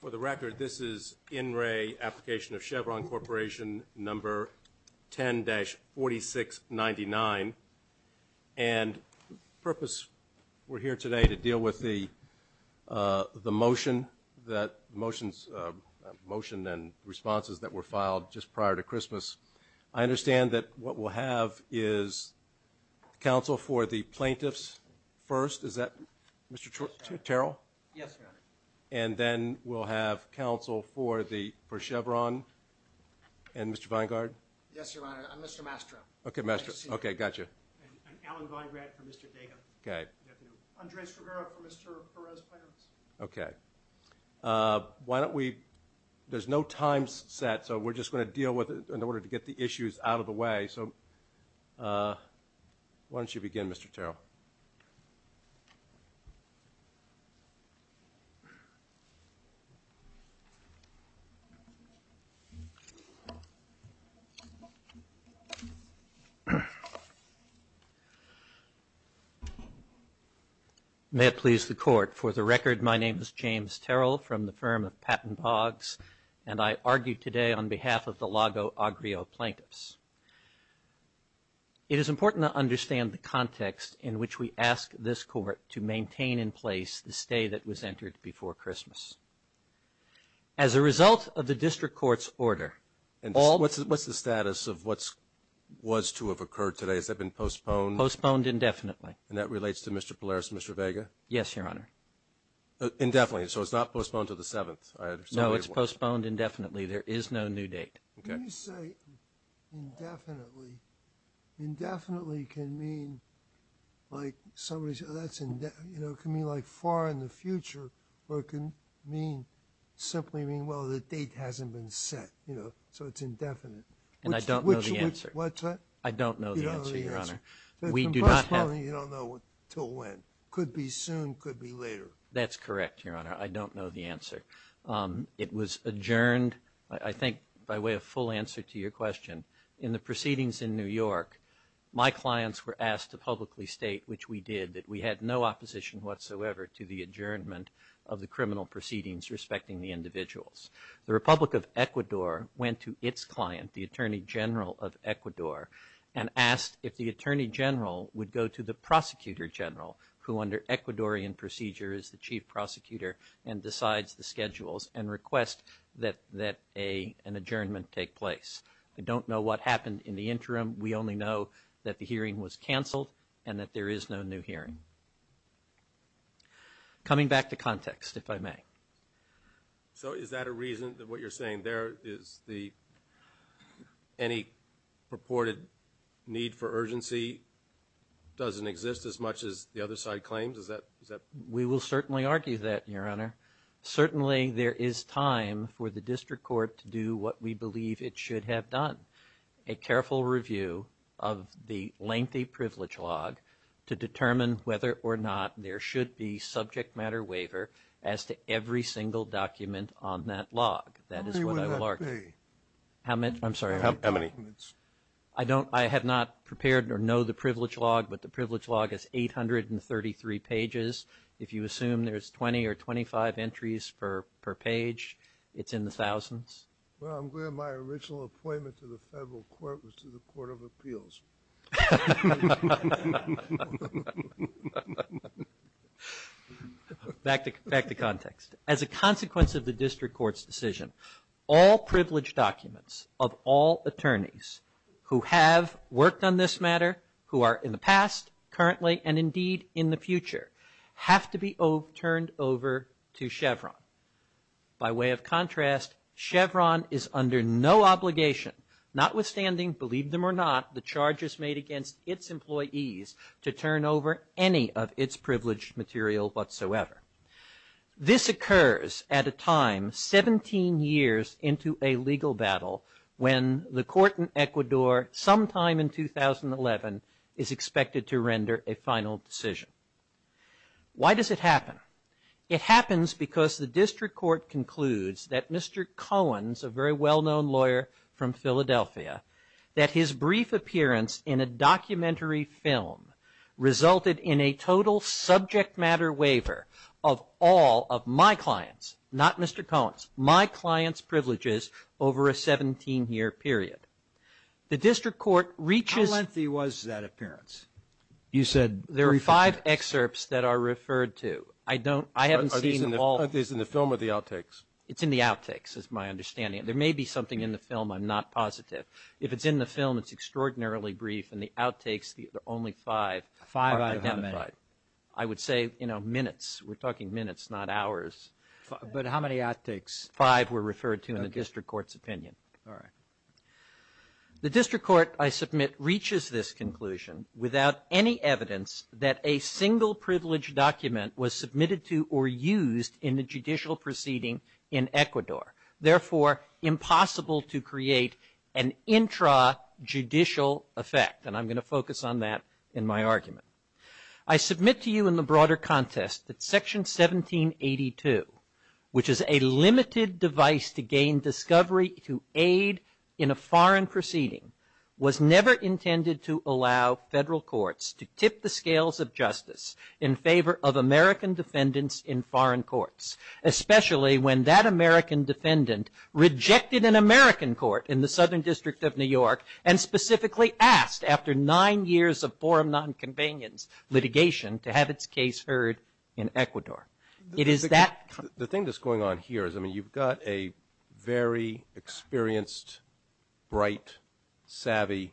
For the record, this is In Re Applicationof Chevron Corp 10-4699, and the purpose we're here today to deal with the motion and responses that were filed just prior to Christmas. I understand that what we'll have is counsel for the plaintiffs first, is that Mr. Terrell? Yes, Your Honor. And then we'll have counsel for Chevron and Mr. Vinegard? Yes, Your Honor, and Mr. Mastra. Okay, Mastra. Okay, gotcha. And Alan Vinegrad for Mr. Dago. Okay. Andres Rivera for Mr. Perez-Perez. Okay. Why don't we, there's no time set, so we're just going to deal with it in order to get the issues out of the way, so why don't you begin, Mr. Terrell? May it please the Court, for the record, my name is James Terrell from the firm of Patton Boggs, and I argue today on behalf of the Lago Agrio Plaintiffs. It is important to understand the context in which we ask this Court to maintain in place the stay that was entered before Christmas. As a result of the District Court's order, all... What's the status of what was to have occurred today? Has that been postponed? Postponed indefinitely. And that relates to Mr. Pilares and Mr. Vega? Yes, Your Honor. Indefinitely, so it's not postponed to the 7th? No, it's postponed indefinitely. There is no new date. When you say indefinitely, indefinitely can mean, like somebody said, that's, you know, it can mean like far in the future, or it can mean, simply mean, well, the date hasn't been set, you know, so it's indefinite. And I don't know the answer. What's that? I don't know the answer, Your Honor. You don't know the answer. We do not have... You don't know until when. Could be soon, could be later. That's correct, Your Honor. I don't know the answer. It was adjourned, I think, by way of full answer to your question. In the proceedings in New York, my clients were asked to publicly state, which we did, that we had no opposition whatsoever to the adjournment of the criminal proceedings respecting the individuals. The Republic of Ecuador went to its client, the Attorney General of Ecuador, and asked if the Attorney General would go to the Prosecutor General, who under Ecuadorian procedure is the Chief Prosecutor, and decides the schedules and requests that an adjournment take place. We don't know what happened in the interim. We only know that the hearing was canceled and that there is no new hearing. Coming back to context, if I may. So, is that a reason that what you're saying there is the... Any purported need for urgency doesn't exist as much as the other side claims? Is that... We will certainly argue that, Your Honor. Certainly, there is time for the District Court to do what we believe it should have done. A careful review of the lengthy privilege log to determine whether or not there should be subject matter waiver as to every single document on that log. How many would that be? I'm sorry, how many? I have not prepared or know the privilege log, but the privilege log is 833 pages. If you assume there's 20 or 25 entries per page, it's in the thousands. Well, I'm glad my original appointment to the Federal Court was to the Court of Appeals. Back to context. As a consequence of the District Court's decision, all privilege documents of all attorneys who have worked on this matter, who are in the past, currently, and indeed in the future, have to be turned over to Chevron. By way of contrast, Chevron is under no obligation, notwithstanding, believe them or not, the charges made against its employees to turn over any of its privileged material whatsoever. This occurs at a time 17 years into a legal battle when the court in Ecuador, sometime in 2011, is expected to render a final decision. Why does it happen? It happens because the District Court concludes that Mr. Cohen, a very well-known lawyer from Philadelphia, that his brief appearance in a documentary film resulted in a total subject matter waiver of all of my client's, not Mr. Cohen's, my client's privileges over a 17-year period. The District Court reaches... How lengthy was that appearance? You said... There are five excerpts that are referred to. I haven't seen them all. Are these in the film or the outtakes? It's in the outtakes, is my understanding. There may be something in the film, I'm not positive. If it's in the film, it's extraordinarily brief. In the outtakes, there are only five. Five are identified. I would say, you know, minutes. We're talking minutes, not hours. But how many outtakes? Five were referred to in the District Court's opinion. All right. The District Court, I submit, reaches this conclusion without any evidence that a single privileged document was submitted to or used in the judicial proceeding in Ecuador. Therefore, impossible to create an intrajudicial effect. And I'm going to focus on that in my argument. I submit to you in the broader contest that Section 1782, which is a limited device to gain discovery to aid in a foreign proceeding, was never intended to allow federal courts to tip the scales of justice in favor of American defendants in foreign courts. Especially when that American defendant rejected an American court in the Southern District of New York and specifically asked, after nine years of forum nonconvenience litigation, to have its case heard in Ecuador. It is that... The thing that's going on here is, I mean, you've got a very experienced, bright, savvy,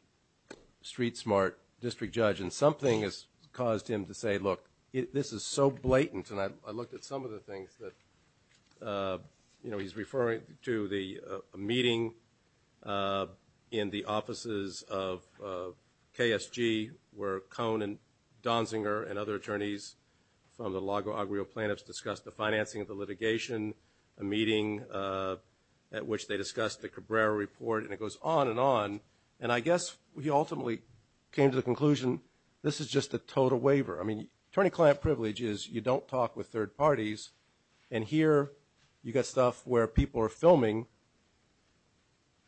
street-smart district judge and something has caused him to say, look, this is so blatant. And I looked at some of the things that, you know, he's referring to the meeting in the offices of KSG, where Cohn and Donziger and other attorneys from the Lago Agrio plant have discussed the financing of the litigation, a meeting at which they discussed the Cabrera report, and it goes on and on. And I guess he ultimately came to the conclusion, this is just a total waiver. I mean, attorney-client privilege is you don't talk with third parties, and here you've got stuff where people are filming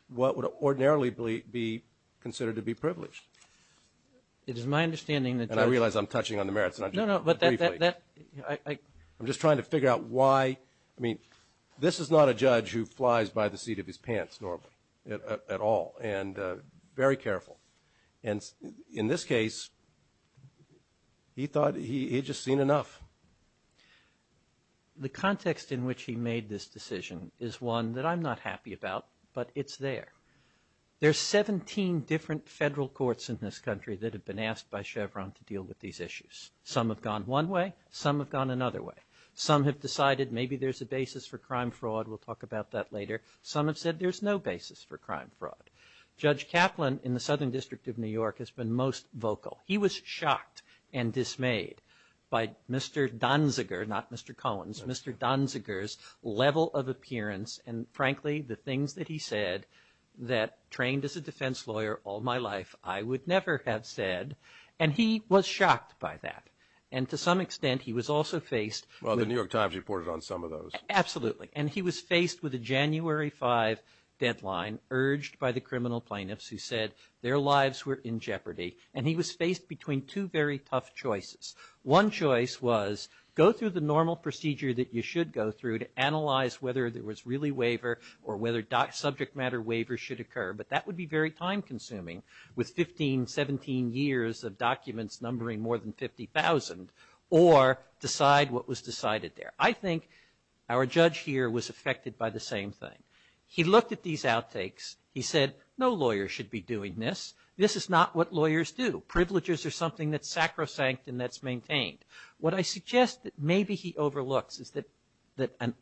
what would ordinarily be considered to be privilege. It is my understanding that... And I realize I'm touching on the merits... No, no, but that... I'm just trying to figure out why... I mean, this is not a judge who flies by the seat of his pants normally, at all, and very careful. And in this case, he thought he'd just seen enough. The context in which he made this decision is one that I'm not happy about, but it's there. There's 17 different federal courts in this country that have been asked by Chevron to deal with these issues. Some have gone one way, some have gone another way. Some have decided maybe there's a basis for crime fraud, we'll talk about that later. Some have said there's no basis for crime fraud. Judge Kaplan, in the Southern District of New York, has been most vocal. He was shocked and dismayed by Mr. Donziger, not Mr. Collins, Mr. Donziger's level of appearance, and frankly, the things that he said that, trained as a defense lawyer all my life, I would never have said, and he was shocked by that. And to some extent, he was also faced... Well, the New York Times reported on some of those. Absolutely, and he was faced with a January 5 deadline urged by the criminal plaintiffs who said their lives were in jeopardy, and he was faced between two very tough choices. One choice was go through the normal procedure that you should go through to analyze whether there was really waiver or whether subject matter waiver should occur, but that would be very time-consuming with 15, 17 years of documents numbering more than 50,000, or decide what was decided there. I think our judge here was affected by the same thing. He looked at these outtakes. He said, no lawyer should be doing this. This is not what lawyers do. Privileges are something that's sacrosanct and that's maintained. What I suggest that maybe he overlooks is that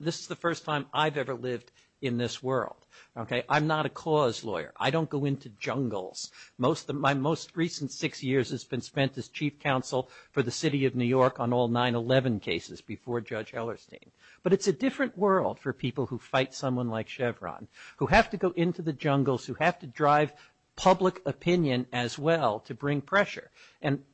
this is the first time I've ever lived in this world. I'm not a cause lawyer. I don't go into jungles. My most recent six years has been spent as chief counsel for the city of New York on all 9-11 cases before Judge Hellerstein. But it's a different world for people who fight someone like Chevron, who have to go into the jungles, who have to drive public opinion as well to bring pressure.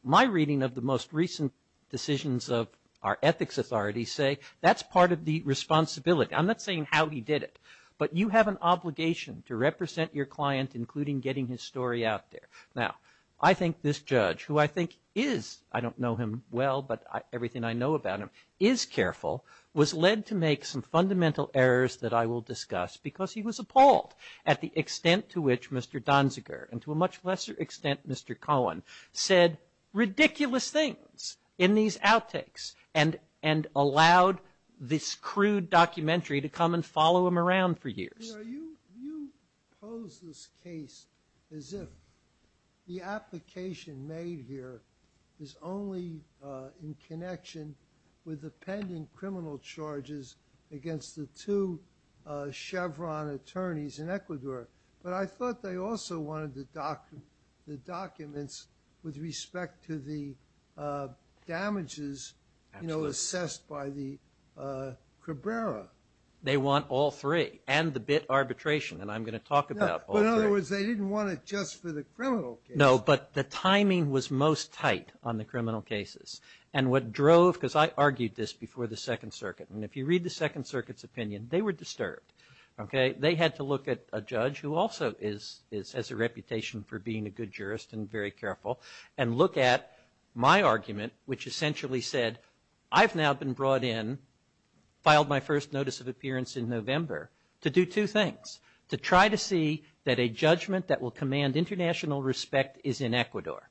My reading of the most recent decisions of our ethics authorities say that's part of the responsibility. I'm not saying how he did it, but you have an obligation to represent your client, including getting his story out there. Now, I think this judge, who I think is, I don't know him well, but everything I know about him, is careful, was led to make some fundamental errors that I will discuss because he was appalled at the extent to which Mr. Donziger and to a much lesser extent Mr. Cohen said ridiculous things in these outtakes and allowed this crude documentary to come and follow him around for years. You pose this case as if the application made here is only in connection with the pending criminal charges against the two Chevron attorneys in Ecuador, but I thought they also wanted the documents with respect to the damages assessed by the Cabrera. They want all three and the arbitration, and I'm going to talk about all three. In other words, they didn't want it just for the criminal case. No, but the timing was most tight on the criminal cases, and what drove, because I argued this before the Second Circuit, and if you read the Second Circuit's opinion, they were disturbed. They had to look at a judge, who also has a reputation for being a good jurist and very careful, and look at my argument, which essentially said, I've now been brought in, filed my first notice of appearance in November, to do two things. To try to see that a judgment that will command international respect is in Ecuador,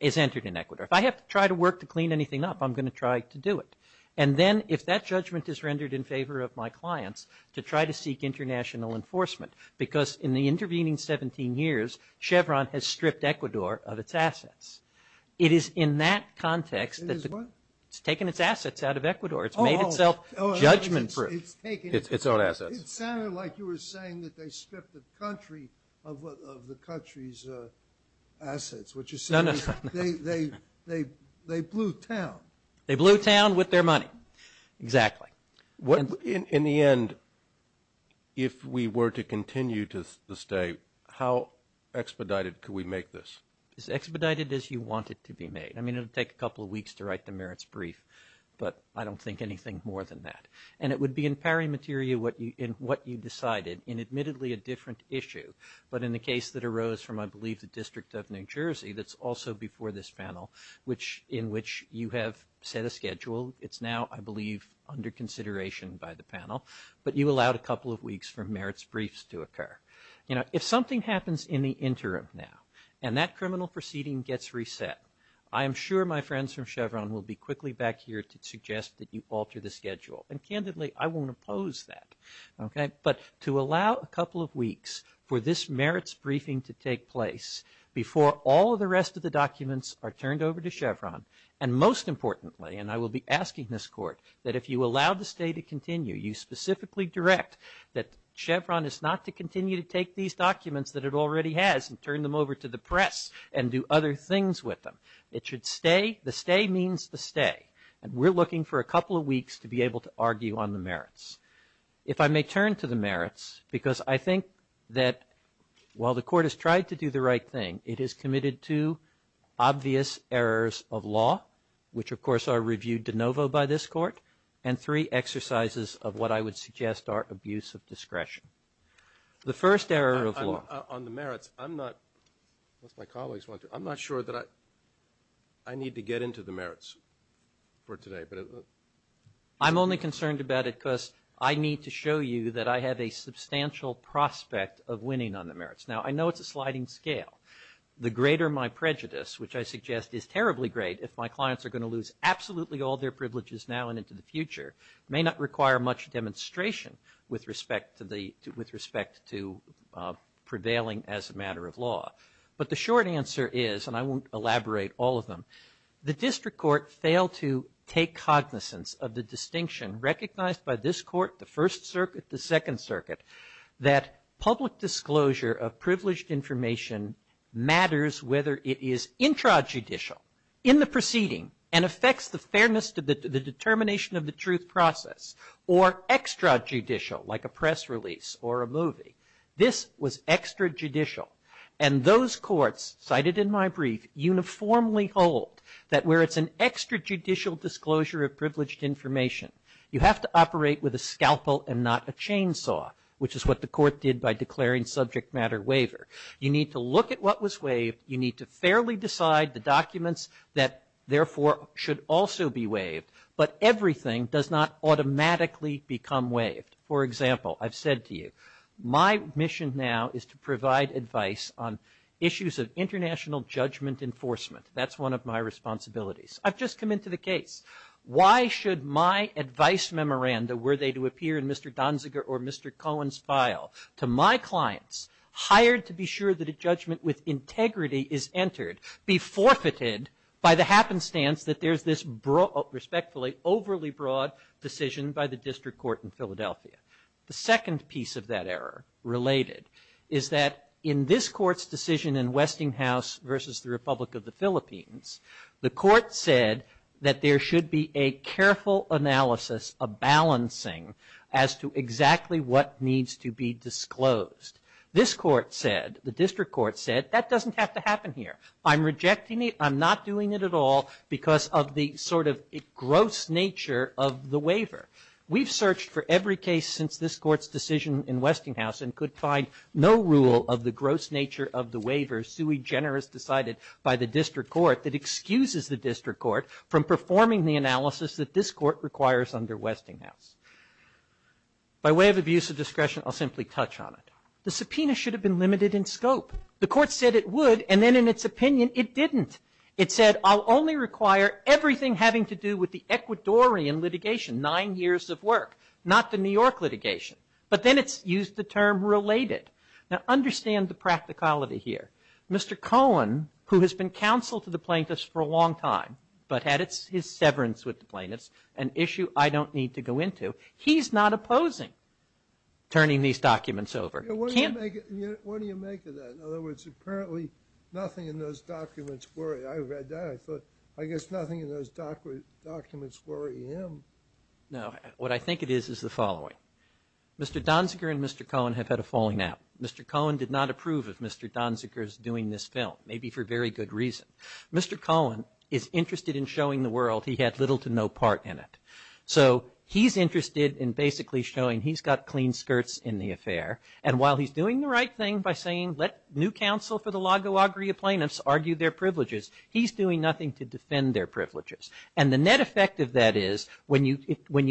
is entered in Ecuador. If I have to try to work to clean anything up, I'm going to try to do it. And then, if that judgment is rendered in favor of my clients, to try to seek international enforcement, because in the intervening 17 years, Chevron has stripped Ecuador of its assets. It is in that context that it's taken its assets out of Ecuador. It's made itself judgment-proof. It's all assets. It sounded like you were saying that they stripped the country of the country's assets. What you're saying is they blew town. They blew town with their money. Exactly. In the end, if we were to continue to stay, how expedited could we make this? As expedited as you want it to be made. I mean, it would take a couple of weeks to write the merits brief, but I don't think anything more than that. And it would be in pari materia, in what you decided, in admittedly a different issue. But in the case that arose from, I believe, the District of New Jersey, that's also before this panel, in which you have set a schedule. It's now, I believe, under consideration by the panel. But you allowed a couple of weeks for merits briefs to occur. If something happens in the interim now, and that criminal proceeding gets reset, I am sure my friends from Chevron will be quickly back here to suggest that you alter the schedule. And candidly, I won't oppose that. Okay? But to allow a couple of weeks for this merits briefing to take place before all the rest of the documents are turned over to Chevron, and most importantly, and I will be asking this Court, that if you allow the stay to continue, you specifically direct that Chevron is not to continue to take these documents that it already has and turn them over to the press and do other things with them. It should stay. The stay means the stay. And we're looking for a couple of weeks to be able to argue on the merits. If I may turn to the merits, because I think that while the Court has tried to do the right thing, it has committed two obvious errors of law, which, of course, are reviewed de novo by this Court, and three exercises of what I would suggest are abuse of discretion. The first error of law... On the merits, I'm not, unless my colleagues want to, I'm not sure that I need to get into the merits for today. I'm only concerned about it because I need to show you that I have a substantial prospect of winning on the merits. Now, I know it's a sliding scale. The greater my prejudice, which I suggest is terribly great if my clients are going to lose absolutely all their privileges now and into the future, may not require much demonstration with respect to prevailing as a matter of law. But the short answer is, and I won't elaborate all of them, the District Court failed to take cognizance of the distinction recognized by this Court, the First Circuit, the Second Circuit, that public disclosure of privileged information matters whether it is intrajudicial, in the proceeding, and affects the fairness of the determination of the truth process, or extrajudicial, like a press release or a movie. This was extrajudicial, and those courts, cited in my brief, uniformly hold that where it's an extrajudicial disclosure of privileged information, you have to operate with a scalpel and not a chainsaw, which is what the Court did by declaring subject matter waiver. You need to look at what was waived. You need to fairly decide the documents that therefore should also be waived, but everything does not automatically become waived. For example, I've said to you, my mission now is to provide advice on issues of international judgment enforcement. That's one of my responsibilities. I've just come into the case. Why should my advice memoranda, were they to appear in Mr. Donziger or Mr. Collins' file, to my clients, hired to be sure that a judgment with integrity is entered, be forfeited by the happenstance that there's this respectfully overly broad decision by the District Court in Philadelphia? The second piece of that error related is that in this Court's decision in Westinghouse versus the Republic of the Philippines, the Court said that there should be a careful analysis of balancing as to exactly what needs to be disclosed. This Court said, the District Court said, that doesn't have to happen here. I'm rejecting it. I'm not doing it at all because of the sort of gross nature of the waiver. We've searched for every case since this Court's decision in Westinghouse and could find no rule of the gross nature of the waiver sui generis decided by the District Court that excuses the District Court from performing the analysis that this Court requires under Westinghouse. By way of abuse of discretion, I'll simply touch on it. The subpoena should have been limited in scope. The Court said it would, and then in its opinion it didn't. It said, I'll only require everything having to do with the Ecuadorian litigation, nine years of work, not the New York litigation. But then it used the term related. Now understand the practicality here. Mr. Cohen, who has been counsel to the plaintiffs for a long time, but had his severance with the plaintiffs, an issue I don't need to go into, he's not opposing turning these documents over. What do you make of that? In other words, apparently nothing in those documents worry him. I guess nothing in those documents worry him. What I think it is, is the following. Mr. Donziger and Mr. Cohen have had a falling out. Mr. Cohen did not approve of Mr. Donziger's doing this film, maybe for very good reason. Mr. Cohen is interested in showing the world he had little to no part in it. So, he's interested in basically showing he's got clean skirts in the affair, and while he's doing the right thing by saying, let new counsel for the Lago Agria plaintiffs argue their privileges, he's doing nothing to defend their privileges. And the net effect of that is, when you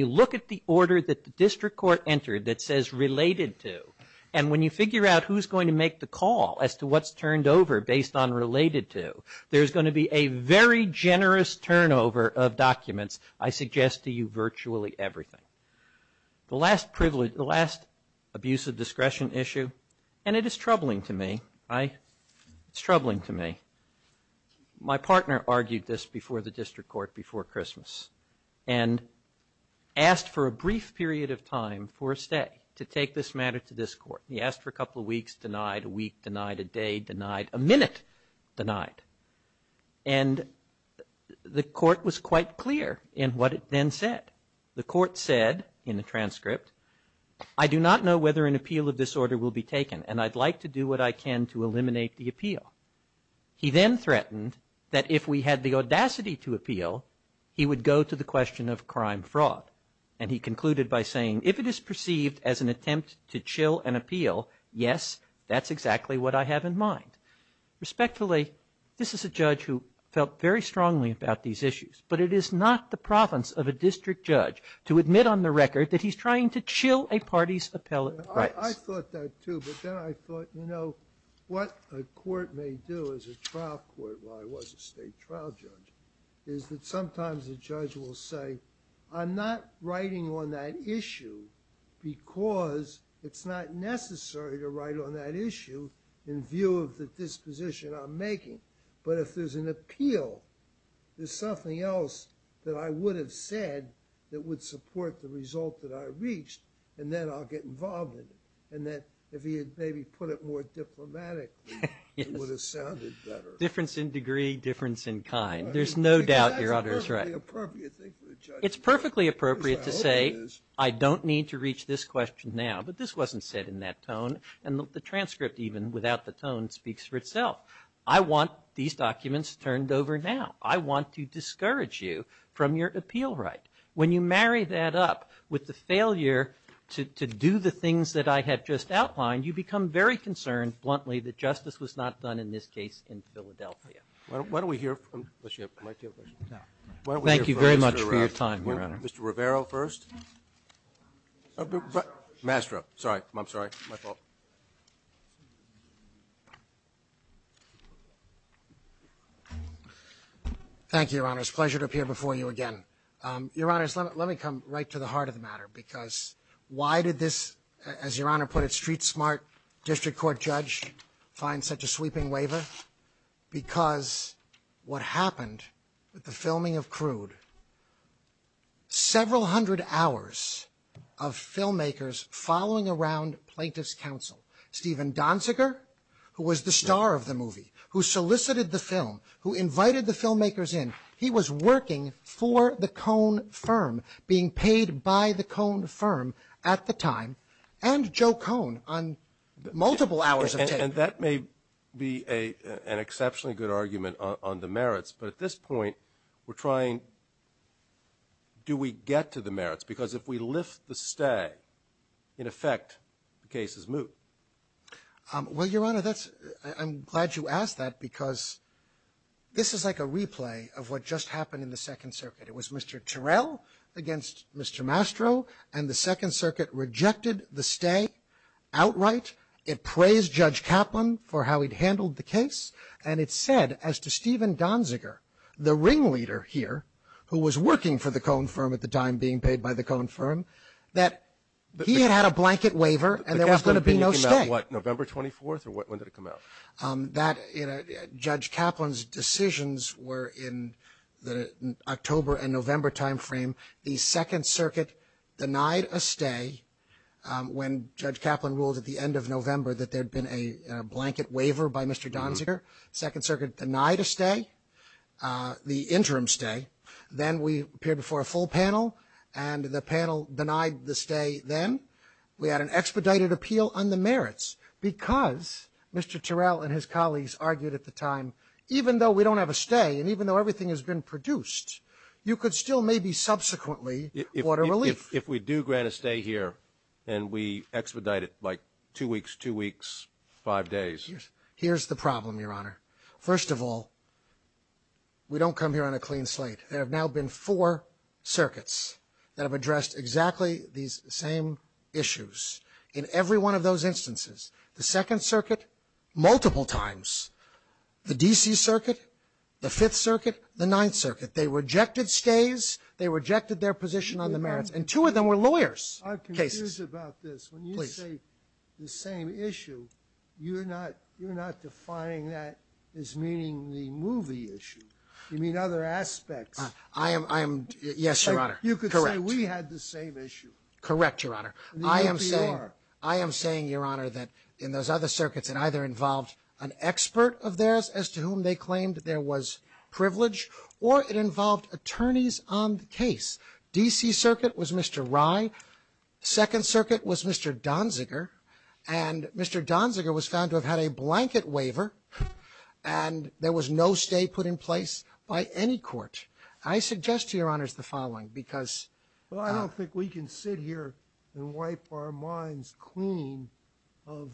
look at the order that the district court entered that says related to, and when you figure out who's going to make the call as to what's turned over based on related to, there's going to be a very generous turnover of documents, I suggest to you virtually everything. The last abuse of discretion issue, and it is troubling to me, it's troubling to me. My partner argued this before the district court before Christmas, and asked for a brief period of time for a stay to take this matter to this court. He asked for a couple of weeks, denied a week, denied a day, denied a minute, denied. And the court was quite clear in what it then said. The court said in the transcript, I do not know whether an appeal of this order will be taken, and I'd like to do what I can to he then threatened that if we had the audacity to appeal, he would go to the question of crime fraud. And he concluded by saying if it is perceived as an attempt to chill an appeal, yes, that's exactly what I have in mind. Respectfully, this is a judge who felt very strongly about these issues, but it is not the province of a district judge to admit on the record that he's trying to chill a party's appellate. I thought that too, but then I thought, you know, what a court may do as a trial court, while I was a state trial judge, is that sometimes a judge will say, I'm not writing on that issue because it's not necessary to write on that issue in view of the disposition I'm making. But if there's an appeal, there's something else that I would have said that would support the result that I reached, and then I'll get involved in it. And then if he had maybe put it more diplomatic, it would have sounded better. Difference in degree, difference in kind. There's no doubt, Your Honor, that's right. It's perfectly appropriate to say, I don't need to reach this question now, but this wasn't said in that tone, and the transcript, even without the tone, speaks for itself. I want these documents turned over now. I want to discourage you from your appeal right. When you marry that up with the failure to do the things that I have just outlined, you become very concerned, bluntly, that justice was not done in this case in Philadelphia. Thank you very much for your time, Your Honor. Mr. Rivero first. Mastro. Sorry. I'm sorry. My fault. Thank you, Your Honor. It's a pleasure to appear before you again. Your Honor, let me come right to the heart of the matter, because why did this, as Your Honor put it, street smart district court judge find such a sweeping waiver? Because what happened with the filming of Crude, several hundred hours of filmmakers following around plaintiff's counsel, Stephen Donziger, who was the star of the movie, who solicited the film, who invited the filmmakers in. He was working for the Ida Cohn firm at the time and Joe Cohn on multiple hours of tape. And that may be an exceptionally good argument on the merits, but at this point, we're trying do we get to the merits? Because if we lift the stag, in effect, the case is moot. Well, Your Honor, that's... I'm glad you asked that, because this is like a replay of what just happened in the Second Circuit. It was Mr. Terrell against Mr. Mastro, and the Second Circuit rejected the stag outright. It praised Judge Kaplan for how he'd handled the case, and it said, as to Stephen Donziger, the ringleader here, who was working for the Cohn firm at the time, being paid by the Cohn firm, that he had a blanket waiver, and there was going to be no stag. November 24th, or when did it come out? Judge Kaplan's decisions were in the October and November time frame. The Second Circuit denied a stag when Judge Kaplan ruled at the end of November that there had been a blanket waiver by Mr. Donziger. Second Circuit denied a stag. The interim stag. Then we appeared before a full panel, and the panel denied the stag then. We had an expedited appeal on the merits, because Mr. Terrell and his colleagues argued at the time, even though we don't have a stag, and even though everything has been produced, you could still maybe subsequently order relief. If we do grant a stag here, and we expedite it like two weeks, two weeks, five days. Here's the problem, Your Honor. First of all, we don't come here on a clean slate. There have now been four circuits that have addressed exactly these same issues. In every one of those instances, the Second Circuit, multiple times, the D.C. Circuit, the Fifth Circuit, the Ninth Circuit, they rejected stags, they rejected their position on the merits, and two of them were lawyers. I'm confused about this. When you say the same issue, you're not defining that as meaning the movie issue. You mean other aspects. I am, yes, Your Honor. You could say we had the same issue. Correct, Your Honor. I am saying, Your Honor, that in those other circuits, it either involved an expert of theirs as to whom they claimed there was privilege, or it involved attorneys on the case. D.C. Circuit was Mr. Rye. Second Circuit was Mr. Donziger, and Mr. Donziger was found to have had a blanket waiver, and there was no stag put in place by any court. I suggest to Your Honor the following, because... Well, I don't think we can sit here and wipe our minds clean of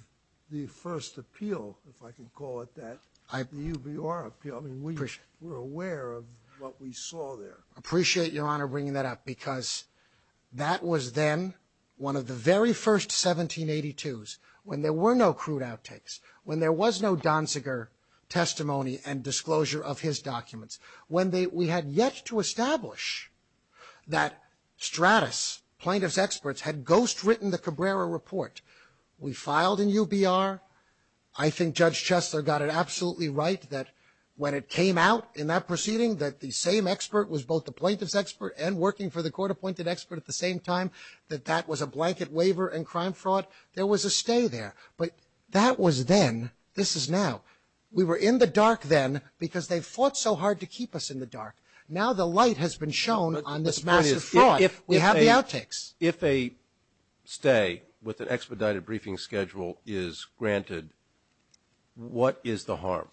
the first appeal, if I can call it that. We were aware of what we saw there. I appreciate Your Honor bringing that up, because that was then one of the very first 1782s, when there were no crude outtakes, when there was no Donziger testimony and disclosure of his documents, when we had yet to establish that Stratis, plaintiff's experts, had ghostwritten the Cabrera Report. We filed in UBR. I think Judge Chesler got it absolutely right that when it came out in that proceeding, that the same expert was both the plaintiff's expert and working for the court-appointed expert at the same time, that that was a blanket waiver and crime fraud. There was a stay there, but that was then. This is now. We were in the dark then, because they fought so hard to keep us in the dark. Now the light has been shown on this massive fraud. We have the outtakes. If a stay with an expedited briefing schedule is granted, what is the harm?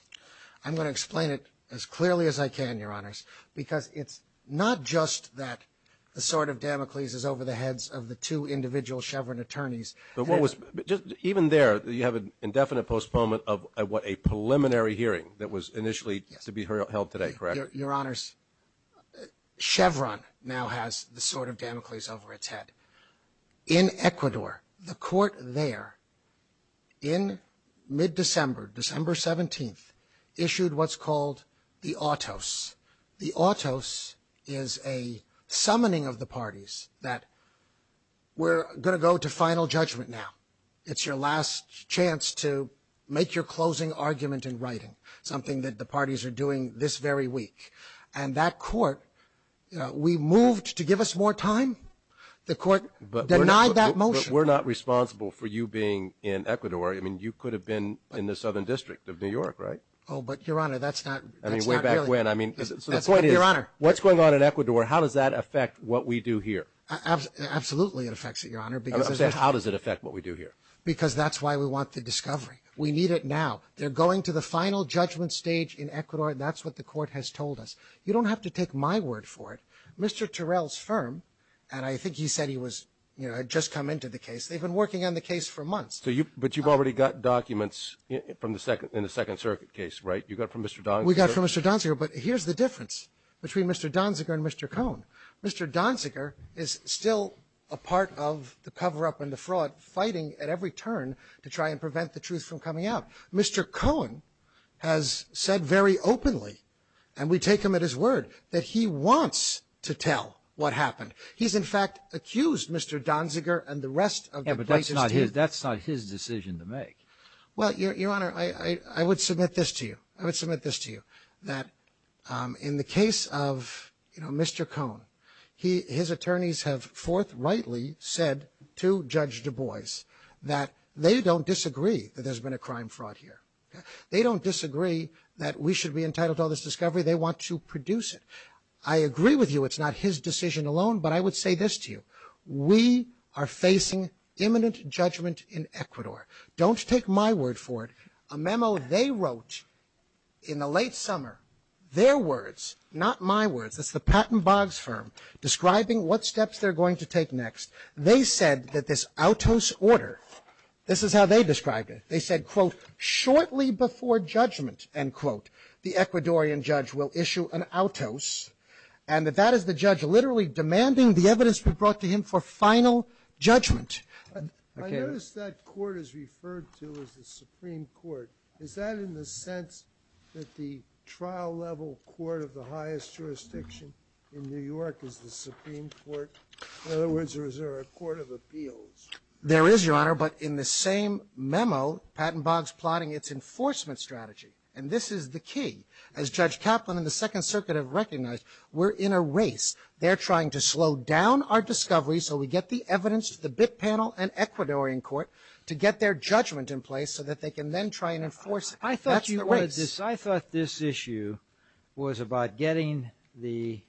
I'm going to explain it as clearly as I can, Your Honors, because it's not just that the Sword of Damocles is over the heads of the two individual Chevron attorneys. Even there, you have an indefinite postponement of a preliminary hearing that was initially to be held today, correct? Your Honors, Chevron now has the Sword of Damocles over its head. In Ecuador, the court there, in mid-December, December 17th, issued what's called the Autos. The Autos is a summoning of the parties that were going to go to final judgment now. It's your last chance to make your closing argument in writing, something that the parties are doing this very week. And that court, we moved to give us more time. The court denied that motion. But we're not responsible for you being in Ecuador. I mean, you could have been in the Southern District of New York, right? Oh, but Your Honor, that's not really... The point is, what's going on in Ecuador, how does that affect what we do here? Absolutely it affects it, Your Honor. How does it affect what we do here? Because that's why we want the discovery. We need it now. They're going to the final judgment stage in Ecuador, and that's what the court has told us. You don't have to take my word for it. Mr. Terrell's firm, and I think he said he was, you know, had just come into the case. They've been working on the case for months. But you've already got documents in the Second Circuit case, right? You got from Mr. Donziger? We got from Mr. Donziger, but here's the difference between Mr. Donziger and Mr. Cohn. Mr. Donziger is still a part of the cover-up and the fraud, fighting at every turn to try and prevent the truth from coming out. Mr. Cohn has said very openly, and we take him at his word, that he wants to tell what happened. He's, in fact, accused Mr. Donziger and the rest of the cases. But that's not his decision to make. Well, Your Honor, I would submit this to you. I would submit this to you, that in the case of, you know, Mr. Cohn, his attorneys have forthrightly said to Judge Du Bois that they don't disagree that there's been a crime-fraud here. They don't disagree that we should be entitled to all this discovery. They want to produce it. I agree with you it's not his decision alone, but I would say this to you. We are facing imminent judgment in Ecuador. Don't take my word for it. A memo they wrote in the late summer, their words, not my words, it's the Patton Boggs firm, describing what steps they're going to take next. They said that this autos order, this is how they described it, they said, quote, shortly before judgment, end quote, the Ecuadorian judge will issue an autos, and that that is the judge literally demanding the evidence be brought to him for final judgment. I notice that court is referred to as the Supreme Court. Is that in the sense that the trial-level court of the highest jurisdiction in other words, is there a court of appeals? There is, Your Honor, but in the same memo, Patton Boggs plotting its enforcement strategy, and this is the key. As Judge Kaplan and the Second Circuit have recognized, we're in a race. They're trying to slow down our discovery so we get the evidence, the BIT panel, and Ecuadorian court to get their judgment in place so that they can then try and enforce I thought you wanted this, I thought this issue was about getting the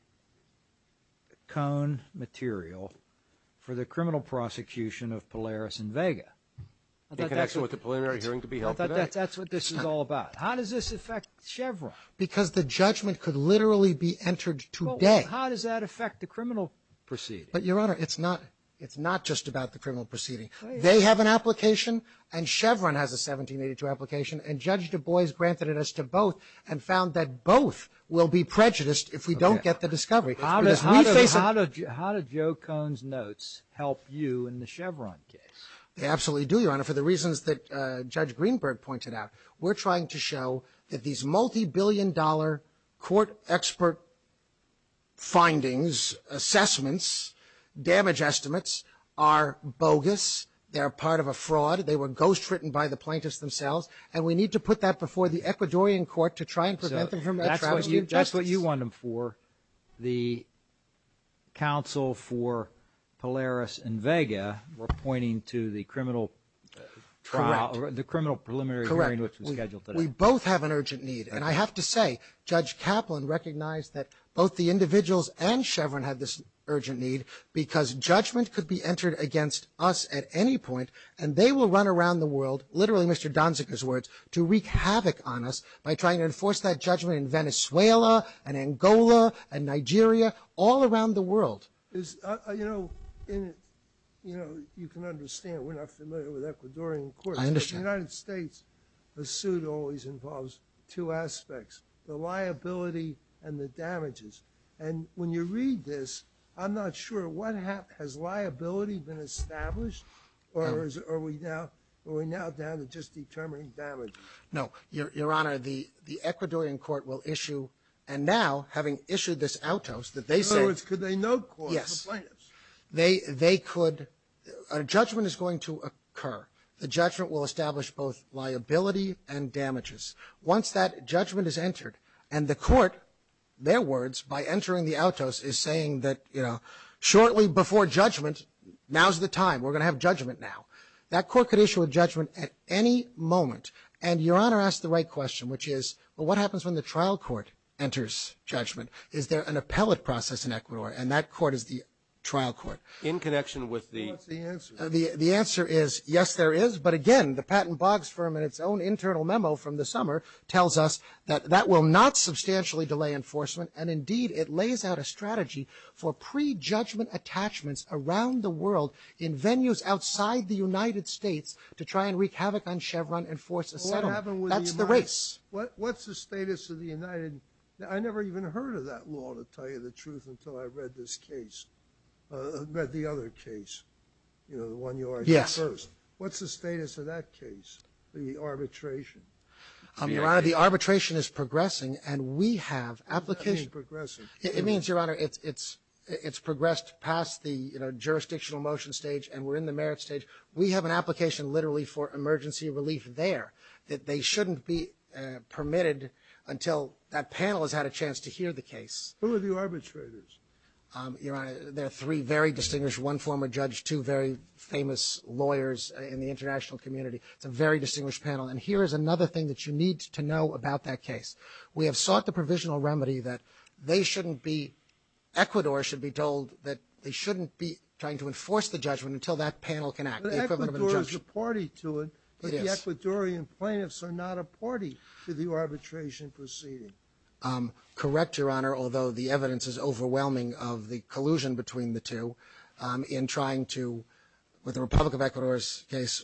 cone material for the criminal prosecution of Polaris and Vega. That's what this is all about. How does this affect Chevron? Because the judgment could literally be entered today. How does that affect the criminal proceeding? But Your Honor, it's not just about the criminal proceeding. They have an application, and Chevron has a 1782 application, and Judge Du Bois granted it as to both and found that both will be prejudiced if we don't get the discovery. How do Joe Cone's notes help you in the Chevron case? They absolutely do, Your Honor, for the reasons that Judge Greenberg pointed out. We're trying to show that these multi-billion dollar court expert findings, assessments, damage estimates, are bogus, they're part of a fraud, they were ghostwritten by the plaintiffs themselves, and we need to put that before the Ecuadorian court to try and prevent them from the counsel for Polaris and Vega were pointing to the criminal trial or the criminal preliminary hearing which was scheduled today. We both have an urgent need, and I have to say, Judge Kaplan recognized that both the individuals and Chevron have this urgent need because judgment could be entered against us at any point, and they will run around the world, literally Mr. Donzick's words, to wreak havoc on us by trying to enforce that judgment in Venezuela and Angola and Nigeria, all around the world. You know, you can understand, we're not familiar with Ecuadorian courts, but in the United States the suit always involves two aspects, the liability and the damages, and when you read this, I'm not sure what happened, has liability been established, or are we now down to just determining damage? No, Your Honor, the Ecuadorian court will issue, and now, having issued this autos, that they could, yes, they could, a judgment is going to occur, the judgment will establish both liability and damages. Once that judgment is entered, and the court, their words, by entering the autos, is saying that shortly before judgment, now's the time, we're going to have judgment now. That court could issue a judgment at any moment, and Your Honor asked the right question, which is, well, what happens when the trial court enters judgment? Is there an appellate process in Ecuador? And that court is the trial court. In connection with the... The answer is, yes, there is, but again, the Patton Boggs firm, in its own internal memo from the summer, tells us that that will not substantially delay enforcement, and indeed, it lays out a strategy for pre-judgment attachments around the world in venues outside the U.S. What's the status of the United... I never even heard of that law, to tell you the truth, until I read this case. I read the other case, the one you argued first. What's the status of that case, the arbitration? The arbitration is progressing, and we have applications... It means, Your Honor, it's progressed past the jurisdictional motion stage, and we're in the merits stage. We have an application, literally, for emergency relief there, that they shouldn't be permitted until that panel has had a chance to hear the case. Who are the arbitrators? Your Honor, there are three very distinguished... One former judge, two very famous lawyers in the international community. It's a very distinguished panel, and here is another thing that you need to know about that case. We have sought the provisional remedy that they shouldn't be... Ecuador should be told that they shouldn't be trying to The Ecuadorians are party to it, but the Ecuadorian plaintiffs are not a party to the arbitration proceeding. Correct, Your Honor, although the evidence is overwhelming of the collusion between the two in trying to, with the Republic of Ecuador's case,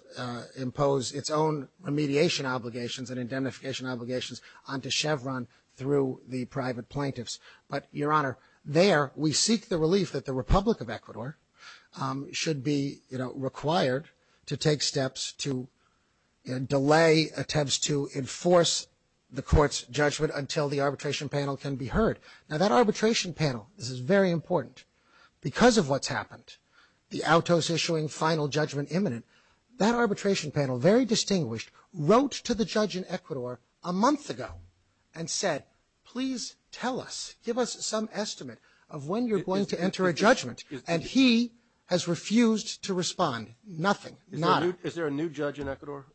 impose its own remediation obligations and identification obligations onto Chevron through the private plaintiffs. But, Your Honor, there, we seek the relief that the Republic of Ecuador should be, you know, required to take steps to delay attempts to enforce the court's judgment until the arbitration panel can be heard. Now, that arbitration panel, this is very important, because of what's happened, the autos issuing final judgment imminent, that arbitration panel, very distinguished, wrote to the judge in Ecuador a month ago and said, please tell us, give us some estimate of when you're going to respond. The judge has refused to respond. Nothing. None. Is there a new judge in Ecuador?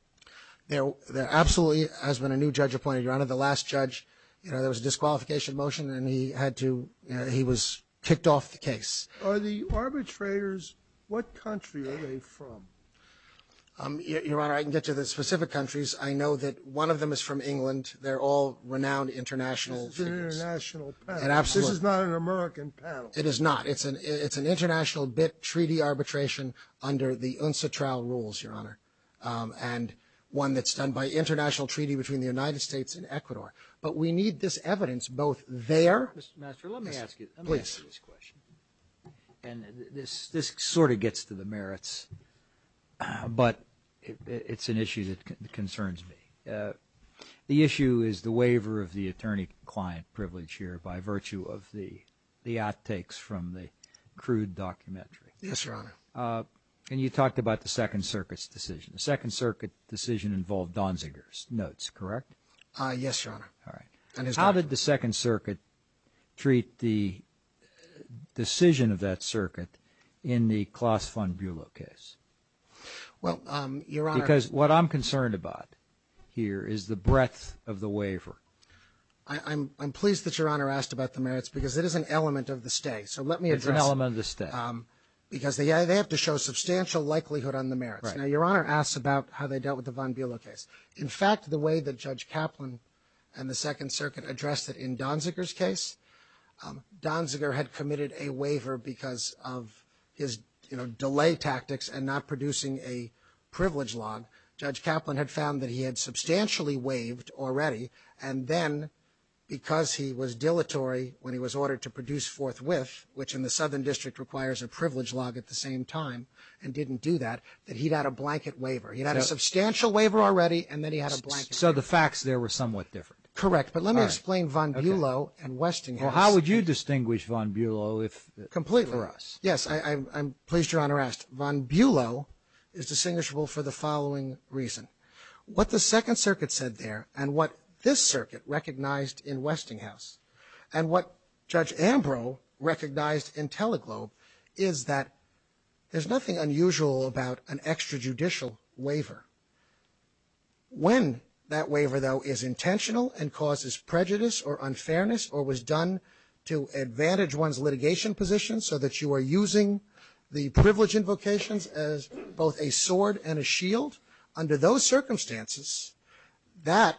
There absolutely has been a new judge appointed, Your Honor. The last judge, there was a disqualification motion, and he had to, he was kicked off the case. Are the arbitrators, what country are they from? Your Honor, I can get to the specific countries. I know that one of them is from England. They're all renowned international... It's an international panel. De-arbitration under the UNSA trial rules, Your Honor, and one that's done by international treaty between the United States and Ecuador. But we need this evidence both there... Mr. Master, let me ask you this question. This sort of gets to the merits, but it's an issue that concerns me. The issue is the waiver of the attorney client privilege here by virtue of the outtakes from the crude documentary. Yes, Your Honor. And you talked about the Second Circuit's decision. The Second Circuit decision involved Donziger's notes, correct? Yes, Your Honor. How did the Second Circuit treat the decision of that circuit in the Kloss Fund Bulo case? Well, Your Honor... Because what I'm concerned about here is the breadth of the waiver. I'm pleased that Your Honor asked about the merits because it is an element of the stay. So let me address... It's an element of the stay. Because they have to show substantial likelihood on the merits. Now, Your Honor asks about how they dealt with the Von Bula case. In fact, the way that Judge Kaplan and the Second Circuit addressed it in Donziger's case, Donziger had permitted a waiver because of his delay tactics and not producing a privilege law. Judge Kaplan had found that he had substantially waived already, and then because he was supposed to produce forthwith, which in the Southern District requires a privilege law at the same time and didn't do that, that he had a blanket waiver. He had a substantial waiver already, and then he had a blanket. So the facts there were somewhat different. Correct. But let me explain Von Bulo and Westinghouse. Well, how would you distinguish Von Bulo if... Completely. Yes, I'm pleased Your Honor asked. Von Bulo is distinguishable for the following reason. What the Second Circuit said there, and what this circuit recognized in Ambrose, recognized in Teleglobe, is that there's nothing unusual about an extrajudicial waiver. When that waiver, though, is intentional and causes prejudice or unfairness or was done to advantage one's litigation position so that you are using the privilege invocations as both a sword and a shield, under those circumstances that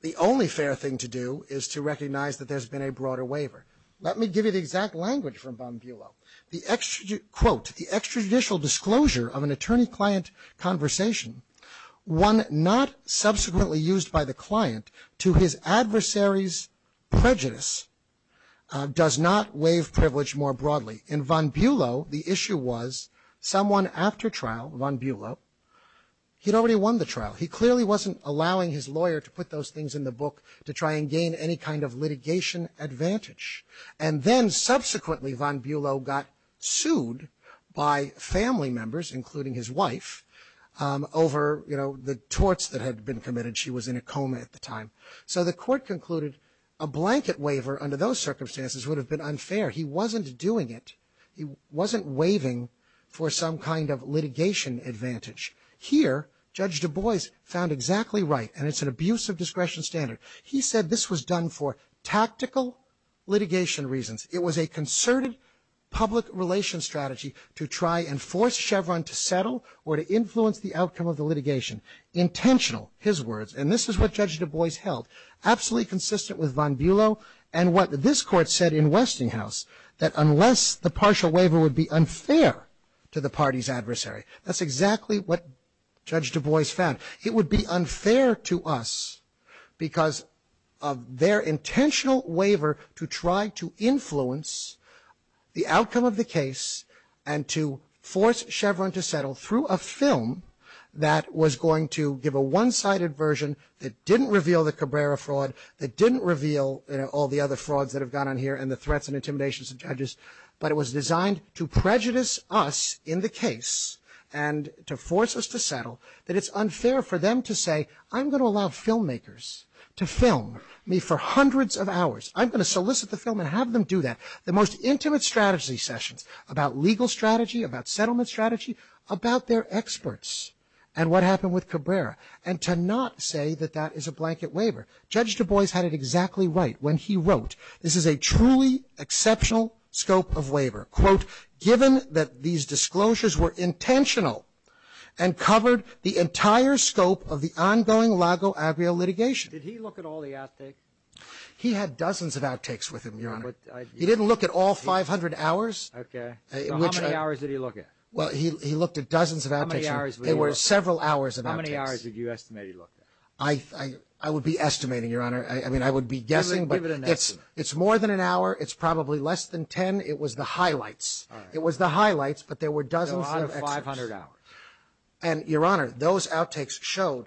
the only fair thing to do is to recognize that there's been a broader waiver. Let me give you the exact language from Von Bulo. Quote, the extrajudicial disclosure of an attorney-client conversation, one not subsequently used by the client to his adversary's prejudice, does not waive privilege more broadly. In Von Bulo, the issue was someone after trial, Von Bulo, he'd already won the trial. He clearly wasn't allowing his lawyer to put those things in the book to try and gain any kind of litigation advantage. And then subsequently Von Bulo got sued by family members, including his wife, over the torts that had been committed. She was in a coma at the time. So the court concluded a blanket waiver under those circumstances would have been unfair. He wasn't doing it. He wasn't waiving for some kind of litigation advantage. Here, Judge Du Bois found exactly right, and it's an abuse of discretion standard. He said this was done for tactical litigation reasons. It was a concerted public relations strategy to try and force Chevron to settle or to influence the outcome of the litigation. Intentional, his words, and this is what Judge Du Bois held, absolutely consistent with Von Bulo and what this court said in Westinghouse, that unless the partial waiver would be unfair to the party's adversary. That's exactly what Judge Du Bois found. It would be unfair to us because of their intentional waiver to try to influence the outcome of the case and to force Chevron to settle through a film that was going to give a one-sided version that didn't reveal the Cabrera fraud, that didn't reveal all the other frauds that have gone on here and the threats and intimidations of judges, but it was designed to prejudice us in the process, to force us to settle, that it's unfair for them to say, I'm going to allow filmmakers to film me for hundreds of hours. I'm going to solicit the film and have them do that. The most intimate strategy sessions about legal strategy, about settlement strategy, about their experts and what happened with Cabrera, and to not say that that is a blanket waiver. Judge Du Bois had it exactly right when he wrote, this is a truly exceptional scope of waiver. Quote, given that these disclosures were intentional and covered the entire scope of the ongoing Lago-Avio litigation. Did he look at all the outtakes? He had dozens of outtakes with him, Your Honor. He didn't look at all 500 hours. Okay. How many hours did he look at? Well, he looked at dozens of outtakes. How many hours did he look at? There were several hours of outtakes. How many hours did you estimate he looked at? I would be estimating, Your Honor. I mean, I would be guessing, but it's more than an hour. It's probably less than 10. It was the highlights. It was the highlights, but there were dozens of 500 hours. And, Your Honor, those outtakes showed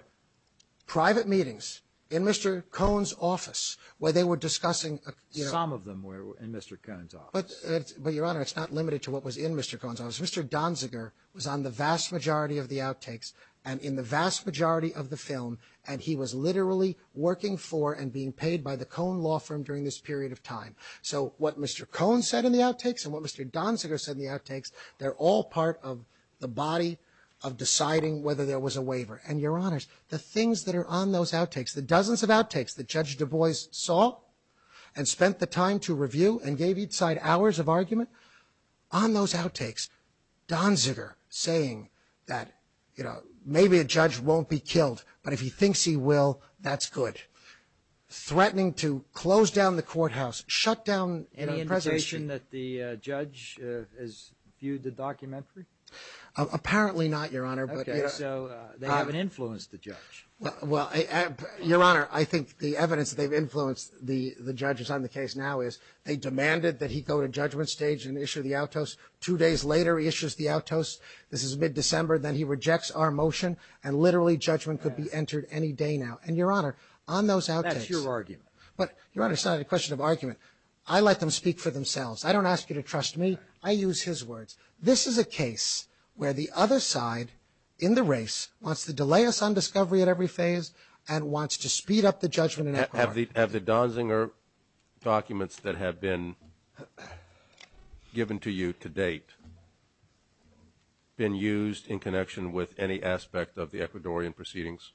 private meetings in Mr. Cohn's office where they were discussing... Some of them were in Mr. Cohn's office. But, Your Honor, it's not limited to what was in Mr. Cohn's office. Mr. Donziger was on the vast majority of the outtakes, and in the vast majority of the film, and he was literally working for and being paid by the Cohn law firm during this period of time. So, what Mr. Donziger said in the outtakes, they're all part of the body of deciding whether there was a waiver. And, Your Honor, the things that are on those outtakes, the dozens of outtakes that Judge Du Bois saw and spent the time to review and gave each side hours of argument, on those outtakes, Donziger saying that, you know, maybe a judge won't be killed, but if he thinks he will, that's good. Threatening to close down the courthouse, shut down any preservation that the judge has viewed the documentary? Apparently not, Your Honor, but they haven't influenced the judge. Well, Your Honor, I think the evidence that they've influenced the judges on the case now is they demanded that he go to judgment stage and issue the outtos. Two days later, he issues the outtos. This is mid-December, then he rejects our motion and literally judgment could be entered any day now. And, Your Honor, on those outtakes... That's your argument. But, Your Honor, that's not a question of argument. I let them speak for themselves. I don't ask you to trust me. I use his words. This is a case where the other side in the race wants to delay us on discovery at every phase and wants to speed up the judgment. Have the Donziger documents that have been given to you to date been used in connection with any aspect of the Ecuadorian proceedings?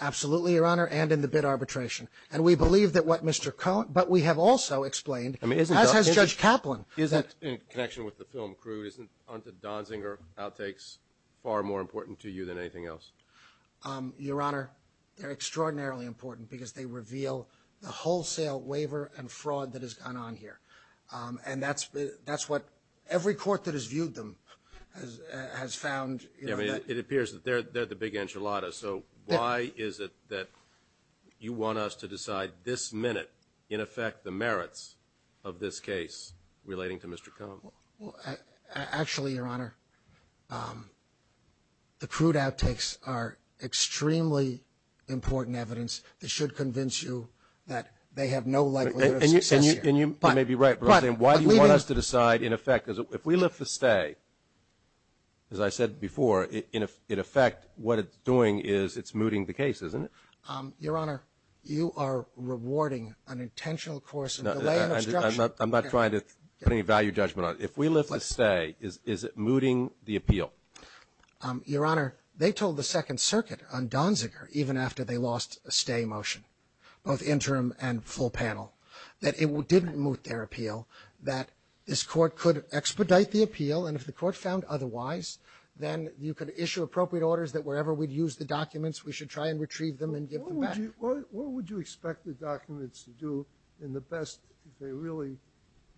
Absolutely, Your Honor, and in the bid arbitration. And we believe that what Mr. Cohn... But we have also explained... As has Judge Kaplan... In connection with the film crew, aren't the Donziger outtakes far more important to you than anything else? Your Honor, they're extraordinarily important because they reveal the wholesale waiver and fraud that has gone on here. And that's what every court that has viewed them has found... It appears that they're the big enchiladas, so why is it that you want us to decide this minute in effect the merits of this case relating to Mr. Cohn? Actually, Your Honor, the crude outtakes are extremely important evidence that should convince you that they have no... And you may be right, but why do you want us to decide in effect... If we look for stay, as I said before, in effect what it's doing is it's mooting the case, isn't it? Your Honor, you are rewarding an intentional course of delay... I'm not trying to put any value judgment on it. If we look for stay, is it mooting the appeal? Your Honor, they told the Second Circuit on Donziger, even after they lost a stay motion, both interim and full panel, that it didn't moot their appeal, that this court could expedite the appeal, and if the court found otherwise, then you could issue appropriate orders that wherever we'd use the documents, we should try and retrieve them and give them back. What would you expect the documents to do in the best... really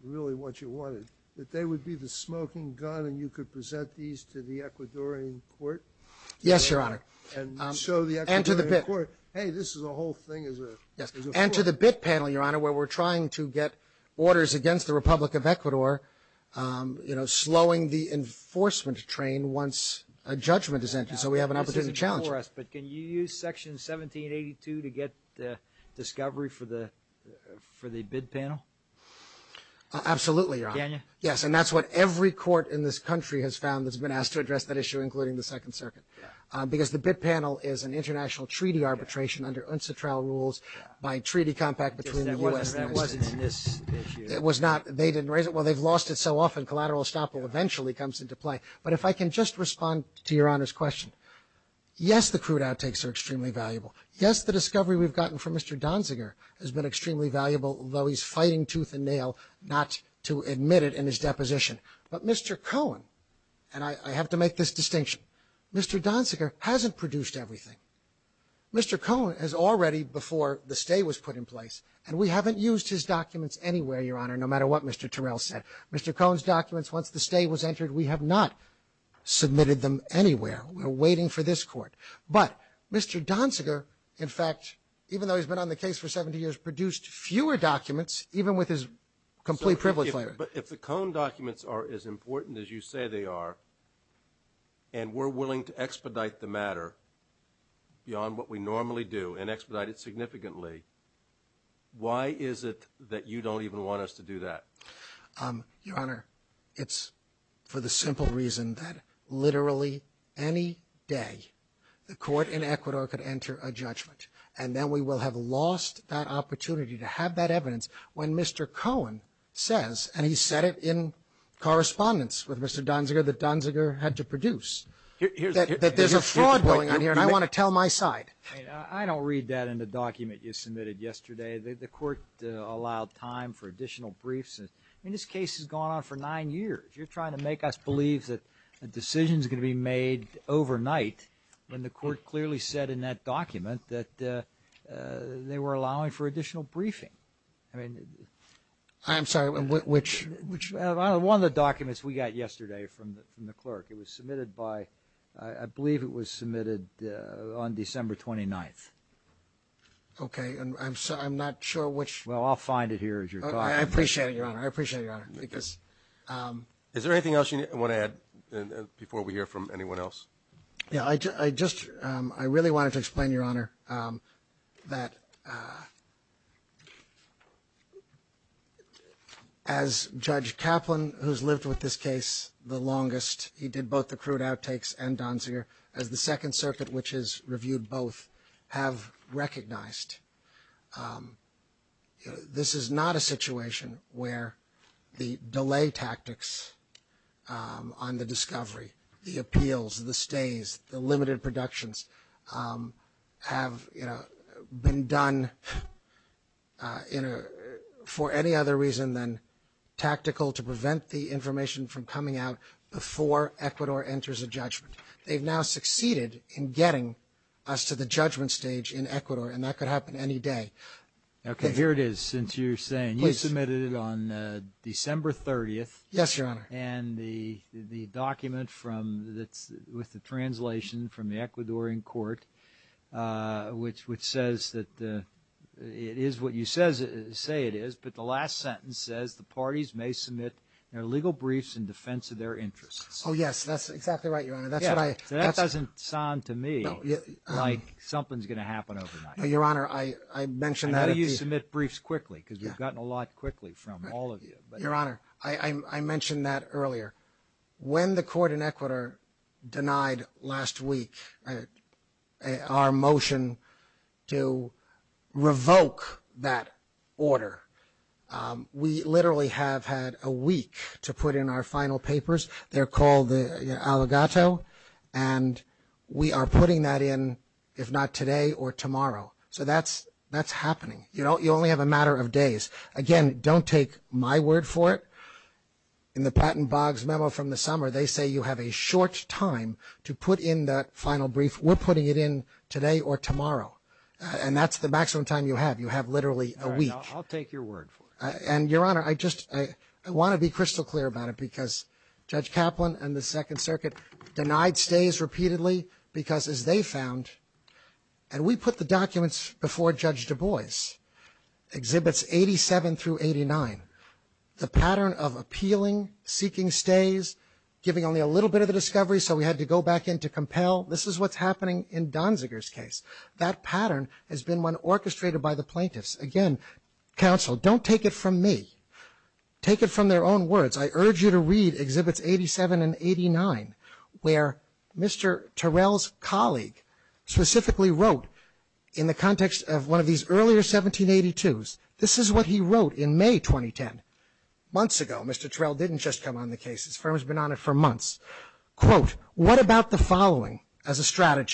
what you wanted? That they would be the smoking gun and you could present these to the Ecuadorian court? Yes, Your Honor. And show the Ecuadorian court, hey, this is a whole thing as a... And to the BIT panel, Your Honor, where we're trying to get orders against the Republic of Ecuador, slowing the enforcement train once a judgment is entered, so we have an opportunity to challenge it. But can you use Section 1782 to get discovery for the BIT panel? Absolutely, Your Honor. Yes, and that's what every court in this country has found that's been asked to address that issue, including the Second Circuit. Because the BIT panel is an international treaty arbitration under UNCTRA rules by treaty compact between the U.S. and Ecuador. They didn't raise it. Well, they've lost it so often. Collateral estoppel eventually comes into play. But if I can just respond to Your Honor's question. Yes, the crude outtakes are extremely valuable. Yes, the discovery we've gotten from Mr. Donziger has been extremely valuable, though he's fighting tooth and nail not to admit it in his deposition. But Mr. Cohen, and I have to make this distinction, Mr. Donziger hasn't produced everything. Mr. Cohen has already, before the stay was put in place, and we haven't used his documents anywhere, Your Honor, no matter what Mr. Terrell said. Mr. Cohen's documents, once the stay was entered, we have not submitted them anywhere. We're waiting for this court. But Mr. Donziger, in fact, even though he's been on the case for 70 years, produced fewer documents, even with his complete privilege. But if the Cohen documents are as important as you say they are, and we're willing to expedite the matter beyond what we normally do, and expedite it significantly, why is it that you don't even want us to do that? Your Honor, it's for the simple reason that literally any day, the court in Ecuador could enter a judgment. And then we will have lost that opportunity to have that evidence when Mr. Cohen says, and he said it in correspondence with Mr. Donziger that Donziger had to produce, that there's a fraud going on here, and I want to tell my side. I don't read that in the document you submitted yesterday. The court allowed time for additional briefs. And this case has gone on for nine years. You're trying to make us believe that the decision's going to be made overnight, when the court clearly said in that document that they were allowing for additional briefing. I'm sorry, which one of the documents we got yesterday from the clerk, it was submitted by, I believe it was submitted on December 29th. Okay, and I'm not sure which... Well, I'll find it here as you're talking. I appreciate it, Your Honor. I appreciate it, Your Honor. Is there anything else you want to add before we hear from anyone else? Yeah, I just, I really wanted to explain, Your Honor, that as Judge Kaplan, who's lived with this case the longest, he did both the crude outtakes and Donzier, and the Second Circuit, which has reviewed both, have recognized this is not a situation where the delay tactics on the discovery, the appeals, the stays, the limited productions have been done for any other reason than tactical to prevent the information from coming out before Ecuador enters a judgment. They've now succeeded in getting us to the judgment stage in Ecuador, and that could happen any day. Okay, here it is, since you're saying you submitted it on December 30th. Yes, Your Honor. And the document with the translation from the Ecuadorian court, which says that it is what you say it is, but the last sentence says the parties may submit their legal briefs in defense of their interests. Oh, yes, that's exactly right, Your Honor. That doesn't sound to me like something's going to happen overnight. Your Honor, I mentioned that. How do you submit briefs quickly? Because we've gotten a lot quickly from all of you. Your Honor, I mentioned that earlier. When the court in Ecuador denied last week our motion to revoke that order, we literally have had a week to put in our final papers. They're called the Aligato, and we are putting that in if not today or tomorrow. So that's happening. You only have a matter of days. Again, don't take my word for it. In the Patten Boggs memo from the summer, they say you have a short time to put in that final brief. We're putting it in today or tomorrow, and that's the maximum time you have. You have literally a week. I'll take your word for it. And, Your Honor, I just want to be crystal clear about it because Judge Kaplan and the Second Circuit denied stays repeatedly because, as they found, and we put the documents before Judge Du Bois, Exhibits 87 through 89. The pattern of appealing, seeking stays, giving only a little bit of a discovery so we had to go back in to compel, this is what's happening in Donziger's case. That pattern has been one orchestrated by the plaintiffs. Again, counsel, don't take it from me. Take it from their own words. I urge you to read Exhibits 87 and 89 where Mr. Terrell's colleague specifically wrote, in the context of one of these earlier 1782s, this is what he wrote in May 2010, months ago. Mr. Terrell didn't just come on the case. His firm has been on it for months. Quote, what about the following as a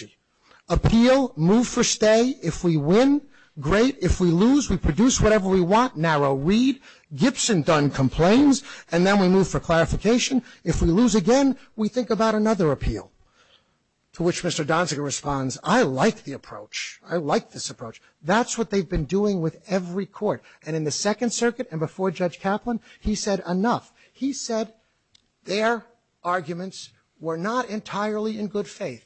move for stay? If we win, great. If we lose, we produce whatever we want. Narrow read. Gibson done complains. And then we move for clarification. If we lose again, we think about another appeal. To which Mr. Donziger responds, I like the approach. I like this approach. That's what they've been doing with every court. And in the Second Circuit and before Judge Kaplan, he said enough. He said their arguments were not entirely in good faith.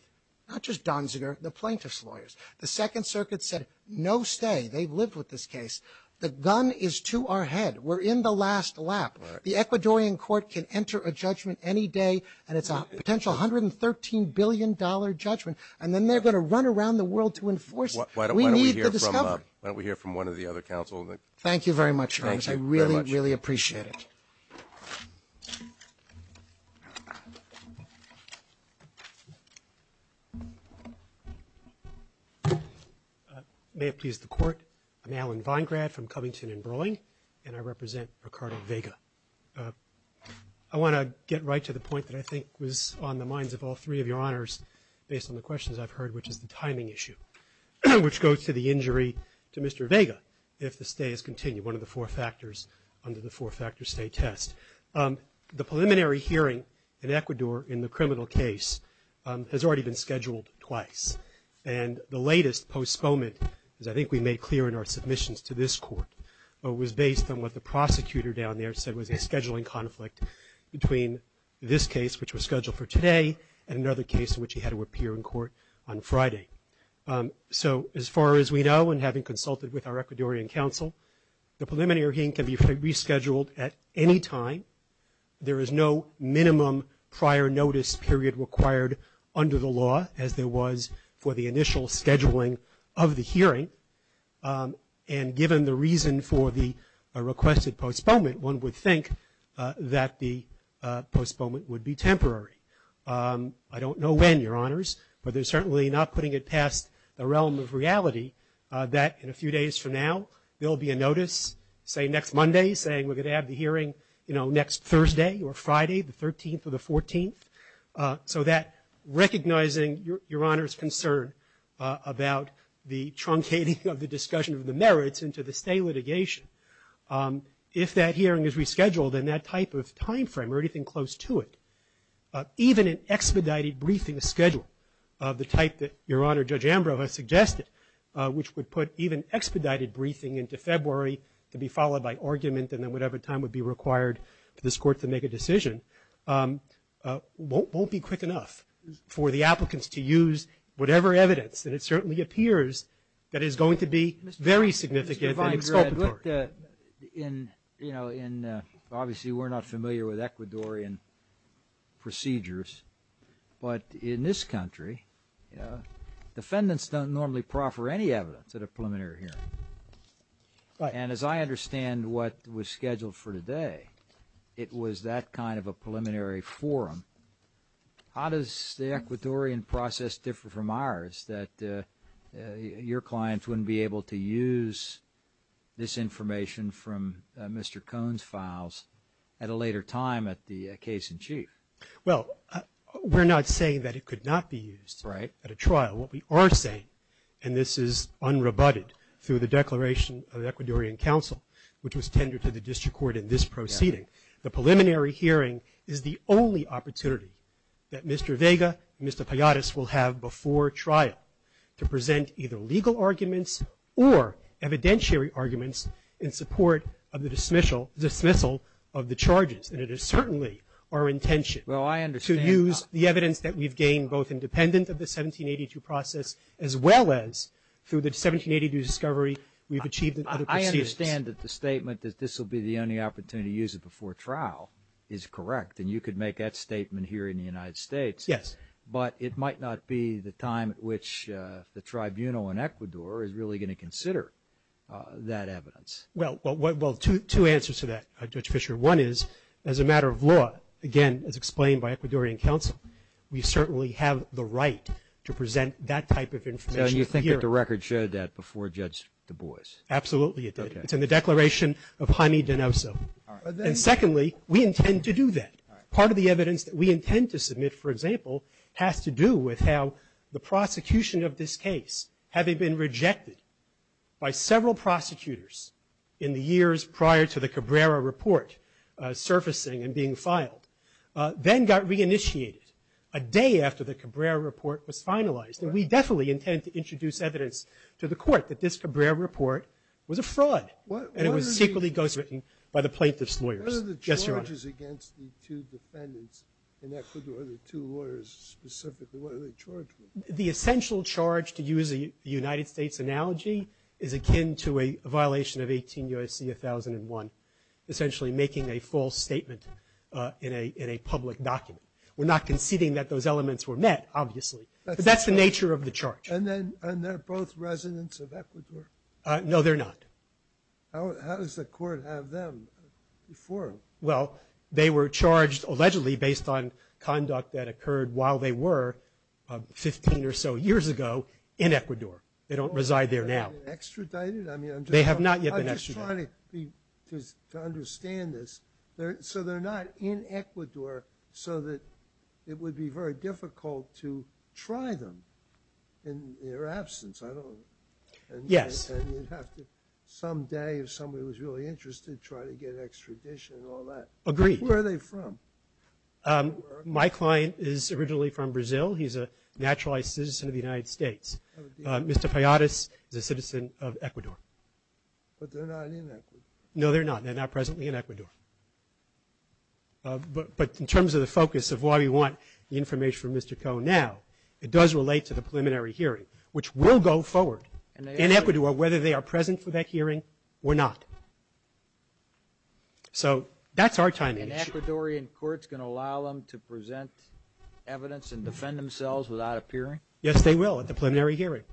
Not just Donziger, the plaintiffs' lawyers. The Second Circuit said, no stay. They've lived with this case. The gun is to our head. We're in the last lap. The Ecuadorian court can enter a judgment any day and it's a potential $113 billion judgment. And then they're going to run around the world to enforce it. We need the discovery. Why don't we hear from one of the other counsel? Thank you very much. I really, really appreciate it. May it please the court. I'm Alan Weingrath from Covington and Broy, and I represent Ricardo Vega. I want to get right to the point that I think was on the minds of all three of your honors based on the questions I've heard, which is the timing issue, which goes to the injury to Mr. Vega if the stay is continued, one of the four factors under the four-factor stay test. The preliminary hearing in Ecuador in the criminal case has already been scheduled twice. And the latest postponement, as I think we made clear in our submissions to this court, was based on what the prosecutor down there said was a scheduling conflict between this case, which was scheduled for today, and another case in which he had to appear in court on Friday. So as far as we know, and having consulted with our Ecuadorian counsel, the preliminary hearing can be rescheduled at any time. There is no minimum prior notice period required under the law, as there was for the initial scheduling of the hearing. And given the reason for the requested postponement, one would think that the postponement would be temporary. I don't know when, your honors, but they're certainly not putting it past the realm of reality that in a few days from now there'll be a notice, say next Monday, saying we're going to have the hearing next Thursday or Friday, the 13th or the 14th, so that recognizing your honor's concern about the truncating of the discussion of the merits into the state litigation, if that hearing is rescheduled and that type of time frame or anything close to it, even an expedited briefing schedule of the type that your honor Judge Ambrose has suggested, which would put even expedited briefing into February to be followed by argument and then whatever time would be required for this court to make a decision, won't be quick enough for the applicants to use whatever evidence, and it certainly appears that it's going to be very significant. Obviously we're not familiar with Ecuadorian procedures, but in this country, defendants don't normally proffer any evidence at a preliminary hearing. As I understand what was scheduled for today, it was that kind of a preliminary forum. How does the Ecuadorian process differ from ours, that your clients wouldn't be able to use this information from Mr. Cohn's files at a later time at the case in chief? Well, we're not saying that it could not be used at a trial. What we are saying, and this is unrebutted through the Declaration of the Ecuadorian Council, which was tendered to the District Court in this proceeding, the preliminary hearing is the only opportunity that Mr. Vega and Mr. Payadas will have before trial to present either legal arguments or evidentiary arguments in support of the dismissal of the charges, and it is certainly our intention to use the evidence that we've gained, both independent of the 1782 process, as well as through the 1782 discovery we've achieved. I understand that the statement that this will be the only opportunity to use it before trial is correct, and you could make that statement here in the United States, but it might not be the time at which the tribunal in Ecuador is really going to consider that evidence. Well, two answers to that, Judge Fisher. One is, as a matter of law, again, as explained by the Ecuadorian Council, we certainly have the right to present that type of information here. Now, you think that the record shared that before Judge Du Bois? Absolutely. It's in the Declaration of Jaime de Neviso. And secondly, we intend to do that. Part of the evidence that we intend to submit, for example, has to do with how the prosecution of this case, having been rejected by several prosecutors in the years prior to the Cabrera report surfacing and being filed, then got re-initiated a day after the Cabrera report was finalized. And we definitely intend to introduce evidence to the court that this Cabrera report was a fraud. And it was secretly ghostwritten by the plaintiff's lawyers. The charges against the two defendants in Ecuador, the two lawyers specifically, what are the charges? The essential charge, to use a United States analogy, is akin to a violation of 18 U.S.C. 1001, essentially making a false statement in a public document. We're not conceding that those elements were met, obviously. But that's the nature of the charge. And they're both residents of Ecuador? No, they're not. How does the court have them before? Well, they were charged, allegedly, based on conduct that occurred while they were 15 or so years ago in Ecuador. They don't reside there now. Are they extradited? They have not yet been extradited. I'm trying to understand this. So they're not in Ecuador so that it would be very difficult to try them in their absence. Yes. Someday, if somebody was really interested, try to get extradition and all that. Agreed. Where are they from? My client is originally from Brazil. He's a naturalized citizen of the United States. Mr. Payadas is a citizen of Ecuador. No, they're not. They're not presently in Ecuador. But in terms of the focus of why we want the information from Mr. Koh now, it does relate to the preliminary hearing, which will go forward in Ecuador, whether they are present for that hearing or not. So that's our timing issue. And Ecuadorian courts going to allow them to present evidence and defend themselves without appearing? Yes, they will at the preliminary hearing.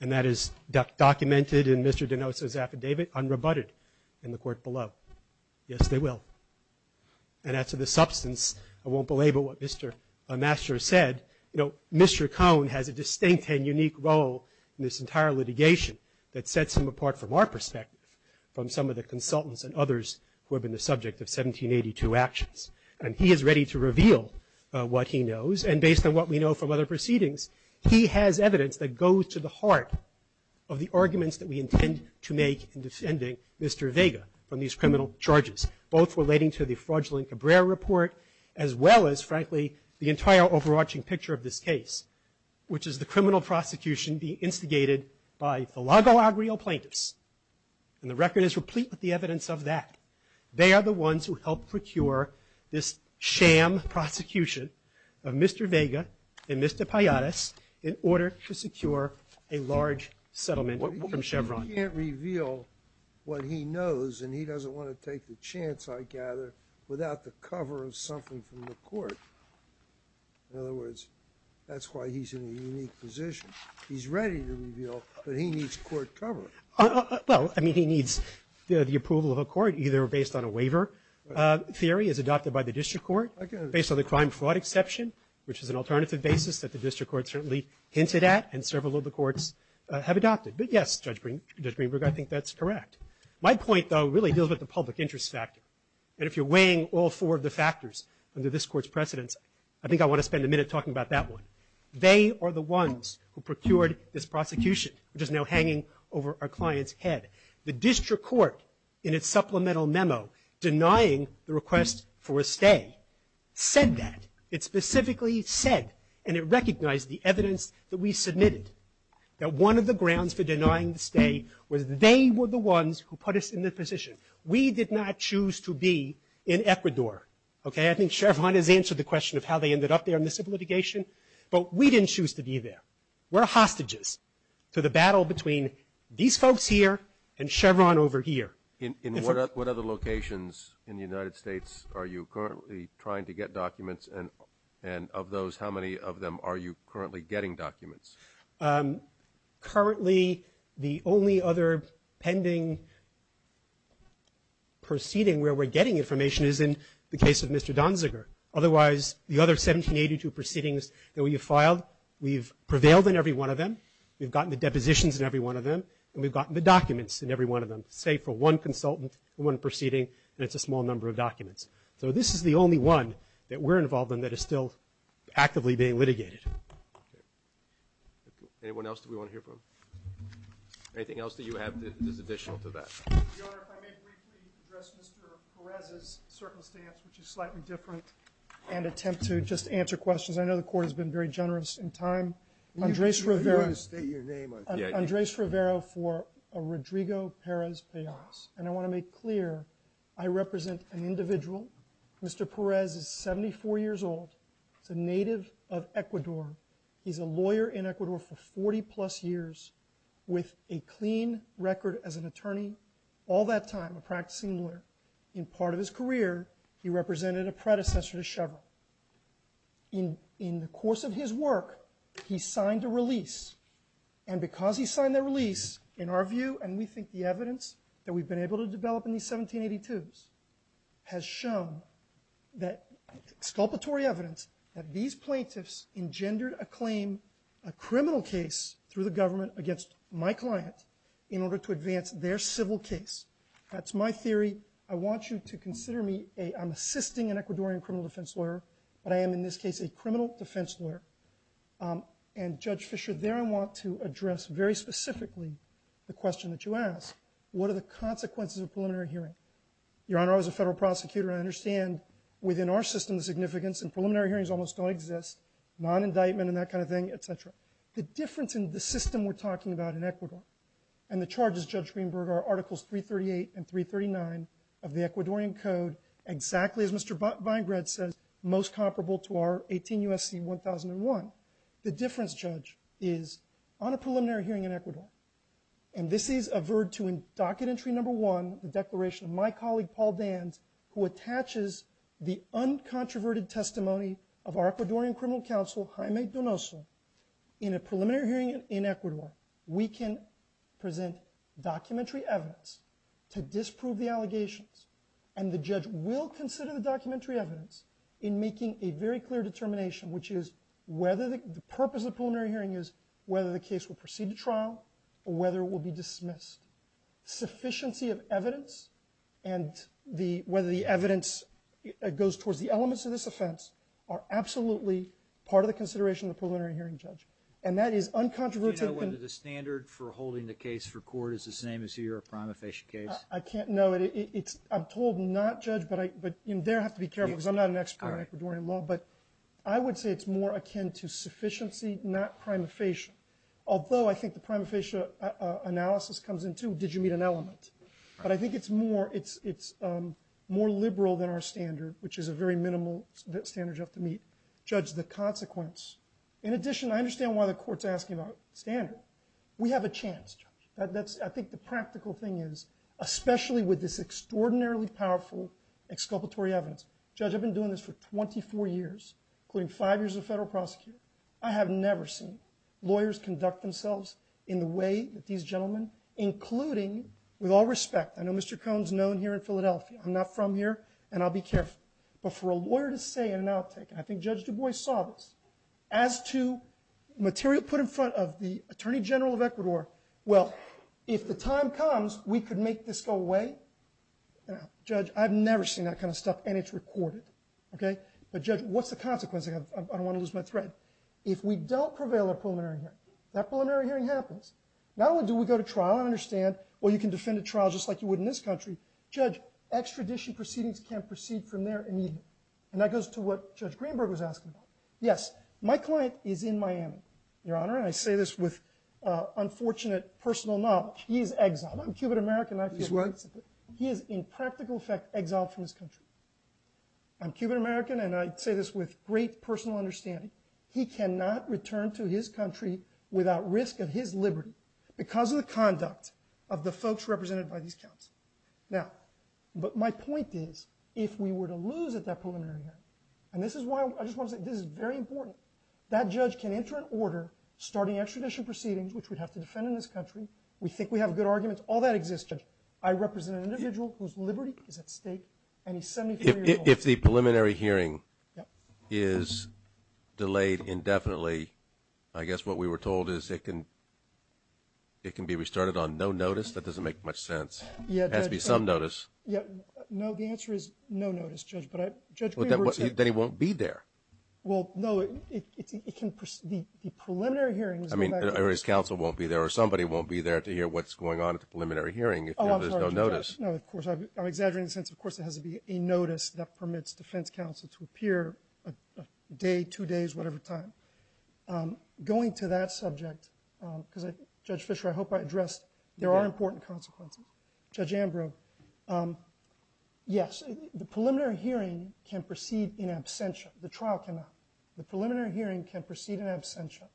And that is documented in Mr. Donoso's affidavit, unrebutted in the court below. Yes, they will. And as for the substance, I won't belabor what Mr. Masters said. Mr. Koh has a distinct and unique role in this entire litigation that sets him apart from our perspective, from some of the consultants and others who have been the subject of 1782 actions. And he is ready to reveal what he knows. And based on what we know from other proceedings, he has evidence that goes to the arguments that we intend to make in defending Mr. Vega on these criminal charges, both relating to the fraudulent Cabrera report, as well as, frankly, the entire overarching picture of this case, which is the criminal prosecution being instigated by the Lago Agrio plaintiffs. And the record is complete with the evidence of that. They are this sham prosecution of Mr. Vega and Mr. Payadas in order to secure a large settlement from Chevron. You can't reveal what he knows, and he doesn't want to take the chance, I gather, without the cover of something from the court. In other words, that's why he's in a unique position. He's ready to reveal, but he needs court cover. Well, I mean, he needs the approval of a court, either based on a waiver theory as adopted by the district court, based on the crime fraud exception, which is an alternative basis that the district court certainly hints it at, and several of the courts have adopted. But yes, Judge Greenberg, I think that's correct. My point, though, really deals with the Public Interest Act. And if you're weighing all four of the factors under this court's precedent, I think I want to spend a minute talking about that one. They are the ones who procured this prosecution, which is now hanging over our client's head. The district court, in its supplemental memo, denying the request for a stay, said that. It specifically said, and it recognized the evidence that we submitted, that one of the grounds for denying the stay was they were the ones who put us in this position. We did not choose to be in Ecuador. Okay? I think Chevron has answered the question of how they ended up there in the civil litigation, but we didn't choose to be there. We're hostages to the battle between these folks here and Chevron over here. In what other locations in the United States are you currently trying to get documents, and of those, how many of them are you currently getting documents? Currently, the only other pending proceeding where we're getting information is in the case of Mr. Donziger. Otherwise, the other 1782 proceedings that we have filed, we've prevailed in every one of them, we've gotten the depositions in every one of them, and we've gotten the documents in every one of them, say, for one consultant in one proceeding, and it's a small number of documents. So this is the only one that we're involved in that is still actively being litigated. Anyone else that we want to hear from? Anything else that you have additional to add? Your Honor, if I may briefly address Mr. Perez's circumstance, which is slightly different, and attempt to just answer questions. I know the Court has been very generous in time. Andres Rivero Andres Rivero for Rodrigo Perez Perez, and I want to make clear I represent an individual Mr. Perez is 74 years old, a native of Ecuador. He's a lawyer in Ecuador for 40 plus years with a clean record as an attorney. All that time, a practicing lawyer. In part of his career, he represented a predecessor to Chavez. In the course of his work, he signed a release. And because he signed that release, in our view, and we think the evidence that we've been able to develop in these 1782s has shown that sculptatory evidence that these plaintiffs engendered a claim, a criminal case, through the government against my client, in order to advance their civil case. That's my theory. I want you to consider me a... I'm assisting an Ecuadorian criminal defense lawyer, but I am in this case a criminal defense lawyer. And Judge Fischer, there I want to address very specifically the question that you asked. What are the consequences of a preliminary hearing? Your Honor, I was a federal prosecutor, and I understand within our system the significance, and preliminary hearings almost don't exist. Non-indictment and that kind of thing, etc. The difference in the system we're talking about in Ecuador, and the charges, Judge Greenberg, are Articles 338 and 339 of the Ecuadorian Code, exactly as Mr. Vinegret says, most comparable to our 18 U.S.C. 1001. The difference, Judge, is on a preliminary hearing in Ecuador, and this is a verdict to docket entry number one, the declaration of my colleague, Paul Bands, who attaches the uncontroverted testimony of our Ecuadorian criminal counsel, Jaime Donoso, in a preliminary hearing in Ecuador. We can present documentary evidence to disprove the allegations, and the judge will consider the documentary evidence in making a very clear determination, which is whether the purpose of the preliminary hearing is whether the case will proceed to trial, or whether it will be dismissed. Sufficiency of evidence and whether the evidence goes towards the elements of this offense are absolutely part of the consideration of the preliminary hearing, Judge. And that is uncontroversial. Do you know whether the standard for holding the case for court is the same as the Europe-Ramaphesh case? I can't know. I'm told not, Judge, but you there have to be careful because I'm not an expert in Ecuadorian law, but I would say it's more akin to sufficiency, not prima facie. Although I think the prima facie analysis comes into, did you meet an element? But I think it's more liberal than our standard, which is a very minimal standard you have to meet, Judge, the consequence. In addition, I understand why the court's asking about standard. We have a chance, Judge. I think the practical thing is, especially with this extraordinarily powerful exculpatory evidence, Judge, I've been doing this for 24 years, including five years as a federal prosecutor. I have never seen lawyers conduct themselves in the way that these gentlemen, including with all respect, I know Mr. Cohn's known here in Philadelphia. I'm not from here, and I'll be careful. But for a lawyer to say in an outtake, and I think Judge Du Bois saw this, as to material put in front of the Attorney General of Ecuador, well, if the time comes, we could make this go away. Judge, I've never seen that kind of stuff, and it's recorded. But Judge, what's the consequence? I don't want to lose my thread. If we don't prevail at a plenary hearing, that plenary hearing happens. Not only do we go to trial, I understand, or you can defend a trial just like you would in this country. Judge, extradition proceedings can't proceed from there immediately. And that goes to what Judge Greenberg was asking about. Yes, my client is in Miami, Your Honor, and I say this with unfortunate personal knowledge. He is exiled. I'm Cuban-American. He's what? He is in practical fact exiled from his country. I'm Cuban-American and I say this with great personal understanding. He cannot return to his country without risk of his liberty because of the conduct of the folks represented by these counts. Now, but my point is, if we were to lose at that preliminary hearing, and this is why I just want to say this is very important, that judge can enter an order starting extradition proceedings, which we'd have to defend in this country. We think we have good arguments. All that exists, Judge. I represent an individual whose liberty is at stake and he's 73 years old. If the preliminary hearing is delayed indefinitely, I guess what we were told is it can be restarted on no notice. That doesn't make much sense. It has to be some notice. No, the answer is no notice, Judge. But Judge Greenberg said... But then he won't be there. Well, no. The preliminary hearing... Or his counsel won't be there or somebody won't be there to hear what's going on at the preliminary hearing if there's no notice. No, of course. I'm exaggerating. Of course, there has to be a notice that permits defense counsel to appear a day, two days, whatever time. Going to that subject, Judge Fischer, I hope I addressed there are important consequences. Judge Ambrose, yes, the preliminary hearing can proceed in absentia. The preliminary hearing can proceed in absentia.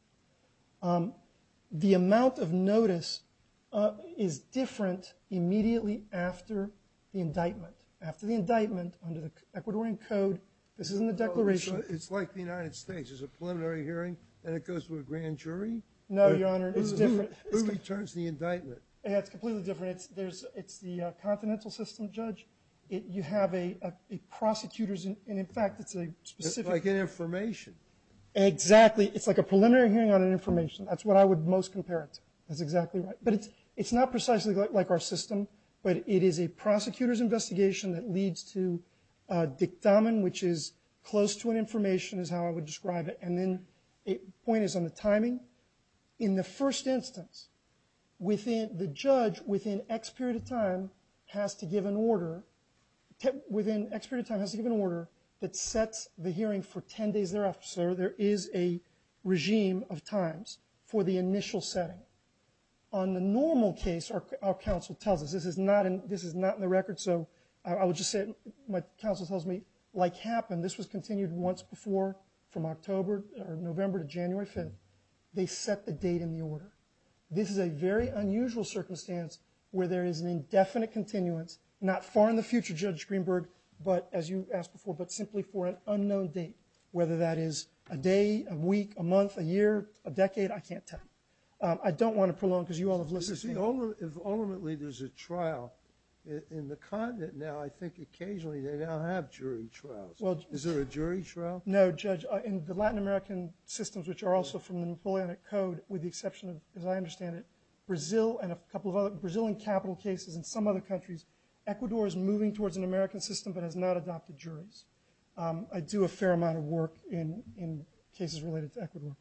The amount of notice is different immediately after the indictment. After the indictment, under the Ecuadorian Code, this is in the declaration... It's like the United States. There's a preliminary hearing and it goes to a grand jury? No, Your Honor, it's different. Who returns the indictment? It's completely different. It's the continental system, Judge. You have prosecutors and, in fact, it's a specific... Exactly. It's like a preliminary hearing on information. That's what I would most compare it to. That's exactly right. But it's not precisely like our system, but it is a prosecutor's investigation that leads to a dictamen, which is close to an information, is how I would describe it. And then the point is on the timing. In the first instance, the judge, within X period of time, has to give an order within X period of time has to give an order that sets the is a regime of times for the initial setting. On the normal case, our counsel tells us, this is not in the record, so I would just say my counsel tells me, like happened, this was continued once before from October or November to January 5th, they set the date in the order. This is a very unusual circumstance where there is an indefinite continuance, not far in the future, Judge Greenberg, but as you asked before, but simply for an unknown date, whether that is a day, a week, a month, a year, a decade, I can't tell you. I don't want to prolong because you all have listened to me. If ultimately there's a trial in the continent now, I think occasionally they now have jury trials. Is there a jury trial? No, Judge. In the Latin American systems, which are also from the Atlantic Code, with the exception of, as I understand it, Brazil and a couple of other, Brazil in capital cases and some other countries, Ecuador is moving towards an American system, but has not adopted juries. I do a fair amount of work in cases related to Ecuador.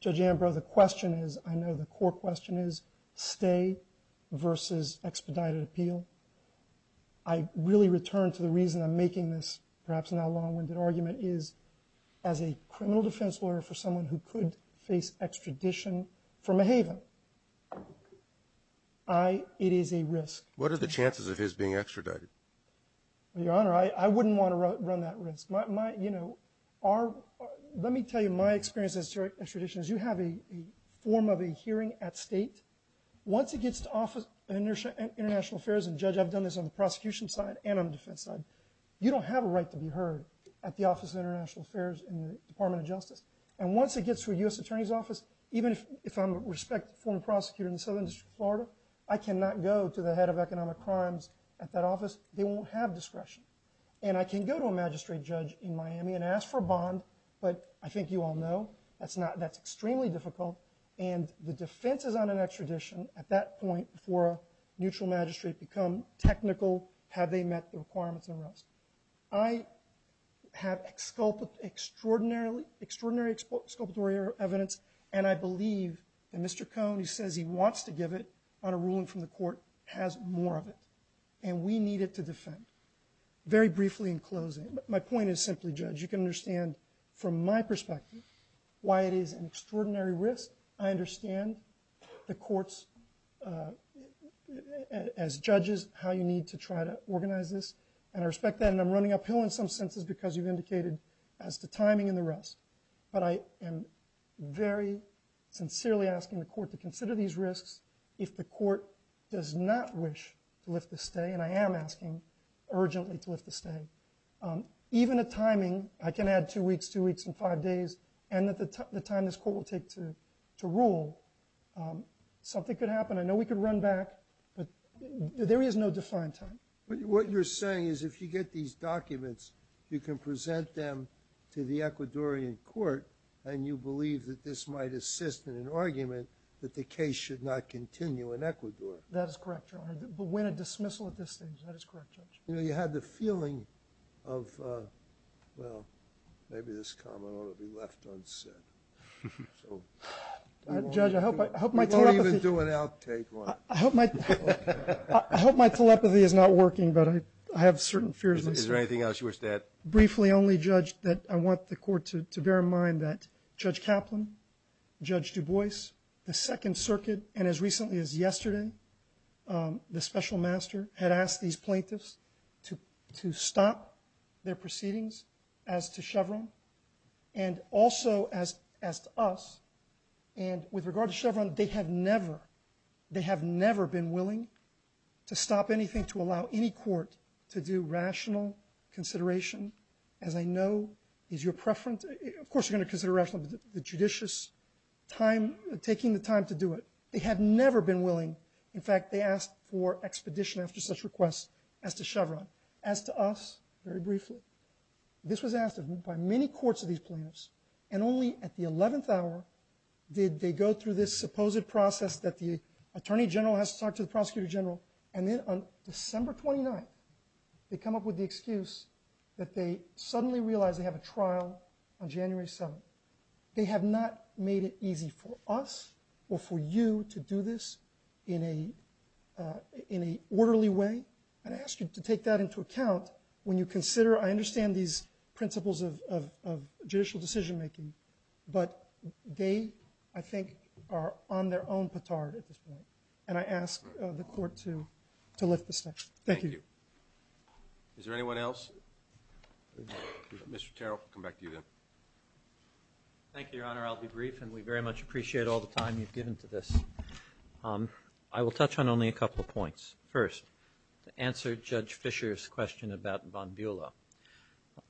Judge Ambrose, the question is, I know the core question is, stay versus expedited appeal. I really return to the reason I'm making this, perhaps not long and the argument is, as a criminal defense lawyer for someone who could face extradition from a haven, it is a risk. What are the chances of his being extradited? Your Honor, I wouldn't want to run that risk. Let me tell you my experience as an extraditionist, you have a form of a hearing at state. Once it gets to the Office of International Affairs, and Judge, I've done this on the prosecution side and on the defense side, you don't have a right to be heard at the Office of International Affairs in the Department of Justice. And once it gets to a U.S. Attorney's Office, even if I'm a respected former prosecutor in the Southern District of Florida, I cannot go to the U.S. Attorney's Office. They won't have discretion. And I can go to a magistrate judge in Miami and ask for a bond, but I think you all know that's extremely difficult and the defense is on an extradition at that point before neutral magistrates become technical, have they met the requirements and the rest. I have extraordinary evidence and I believe that Mr. Cohn, he says he wants to give it on a ruling from the court, has more of it. And we need it to defend. Very briefly in closing, my point is simply, Judge, you can understand from my perspective why it is an extraordinary risk. I understand the courts as judges, how you need to try to organize this, and I respect that and I'm running uphill in some senses because you've indicated as the timing and the rest. But I am very sincerely asking the court does not wish to lift the stay, and I am asking urgently to lift the stay. Even the timing, I can add two weeks, two weeks and five days, and the time this court will take to rule, something could happen. I know we could run back, but there is no defined time. What you're saying is if you get these documents, you can present them to the Ecuadorian court and you believe that this might assist in an argument that the case should not continue in Ecuador. That is correct, but when a dismissal at this stage, that is correct, Judge. You had the feeling of, well, maybe this comment ought to be left unsaid. Judge, I hope my telepathy I hope my telepathy is not working, but I have certain fears. Is there anything else you wish to add? Briefly only, Judge, that I want the court to bear in mind that Judge Kaplan, Judge Du Bois, the Second Circuit, and as recently as yesterday, the Special Master had asked these plaintiffs to stop their proceedings as to Chevron, and also as to us, and with regard to Chevron, they have never they have never been willing to stop anything to allow any court to do rational consideration. As I know, is your preference of course you're going to consider rational, the judicious time, taking the time to do it. They have never been willing. In fact, they asked for expedition after such request as to Chevron. As to us, very briefly, this was asked by many courts of these plaintiffs and only at the 11th hour did they go through this supposed process that the Attorney General has to talk to the Prosecutor General, and then on December 29th, they come up with the excuse that they suddenly realized they have a trial on January 7th. They have not made it easy for us or for you to do this in a orderly way, and I ask you to take that into account when you consider I understand these principles of judicial decision making, but they I think are on their own petard at this point, and I ask the Court to lift this section. Thank you. Is there anyone else? Mr. Terrell, we'll come back to you then. Thank you, Your Honor. I'll be brief, and we very much appreciate all the time you've given to this. I will touch on only a couple of points. First, to answer Judge Fischer's question about Von Buehle,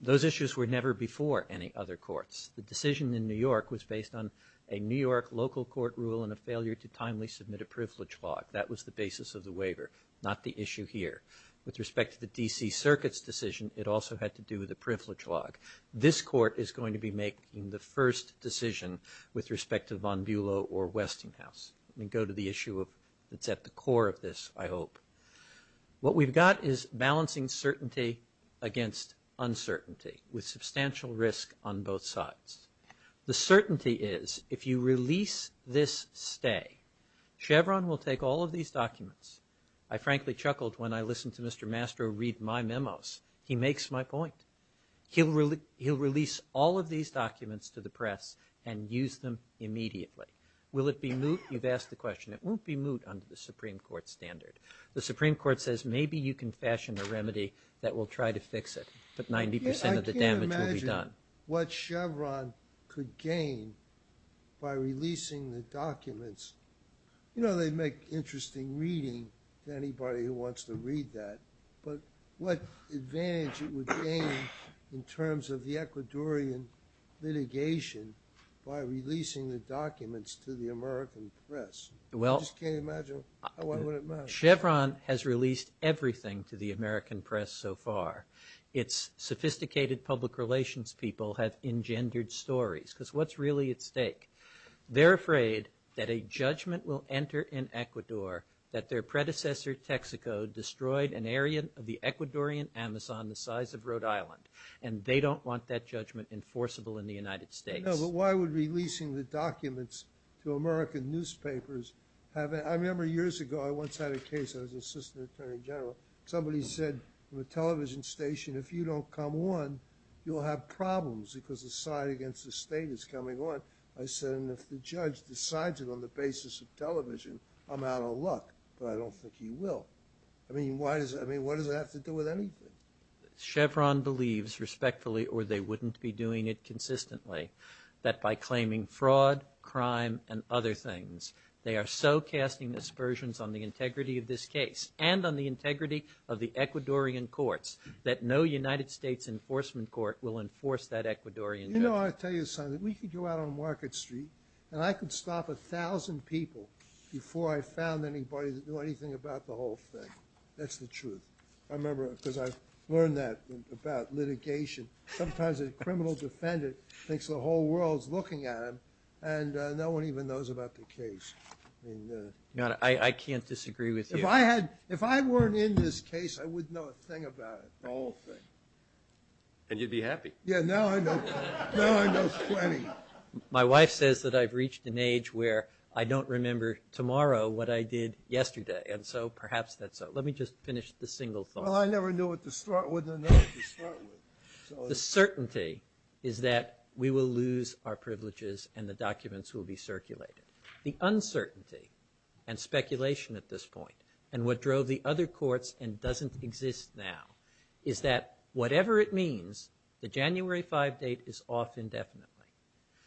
those issues were never before any other courts. The decision in New York was based on a New York local court rule and a failure to timely submit a privilege log. That was the basis of the waiver, not the issue here. With respect to the D.C. Circuit's decision, it also had to do with a privilege log. This Court is going to be making the first decision with respect to Von Buehle or Westinghouse. Let me go to the issue that's at the core of this, I hope. What we've got is balancing certainty against uncertainty with substantial risk on both sides. The certainty is if you release this stay, Chevron will take all of these documents. I frankly chuckled when I listened to Mr. Mastro read my memos. He makes my point. He'll release all of these documents to the press and use them immediately. Will it be moot? You've asked the question. It won't be moot under the Supreme Court's standard. The Supreme Court says maybe you can fashion a remedy that will try to fix it, but 90% of the damage will be done. I can't imagine what Chevron could gain by releasing the documents. They make interesting reading to anybody who wants to read that, but what advantage it would gain in terms of the Ecuadorian litigation by releasing the documents to the American press. I just can't imagine how well it would match. Chevron has released everything to the American press so far. Its sophisticated public relations people have engendered stories, because what's really at stake? They're afraid that judgment will enter in Ecuador, that their predecessor Texaco destroyed an area of the Ecuadorian Amazon the size of Rhode Island, and they don't want that judgment enforceable in the United States. But why would releasing the documents to American newspapers have... I remember years ago I once had a case, I was assistant attorney general, somebody said to the television station, if you don't come on you'll have problems because the side against the state is coming on. I said, if the judge decides it on the basis of television, I'm out of luck, but I don't think he will. I mean, why does it have to do with anything? Chevron believes, respectfully, or they wouldn't be doing it consistently, that by claiming fraud, crime, and other things, they are so casting aspersions on the integrity of this case, and on the integrity of the Ecuadorian courts, that no United States enforcement court will enforce that Ecuadorian... You know, I'll tell you something, we could go out on Market Street, and I could stop a thousand people before I found anybody to do anything about the whole thing. That's the truth. I remember, because I've learned that about litigation, sometimes a criminal defendant makes the whole world looking at him, and no one even knows about the case. I can't disagree with you. If I had, if I weren't in this case, I wouldn't know a thing about it. The whole thing. And you'd be happy. Yeah, now I know 20. My wife says that I've reached an age where I don't remember tomorrow what I did yesterday, and so perhaps that's... Let me just finish the single thought. Well, I never knew what to start with, and I know what to start with. The certainty is that we will lose our privileges, and the documents will be circulated. The uncertainty, and speculation at this point, and what drove the other courts, and doesn't exist now, is that whatever it means, the January 5 date is off indefinitely.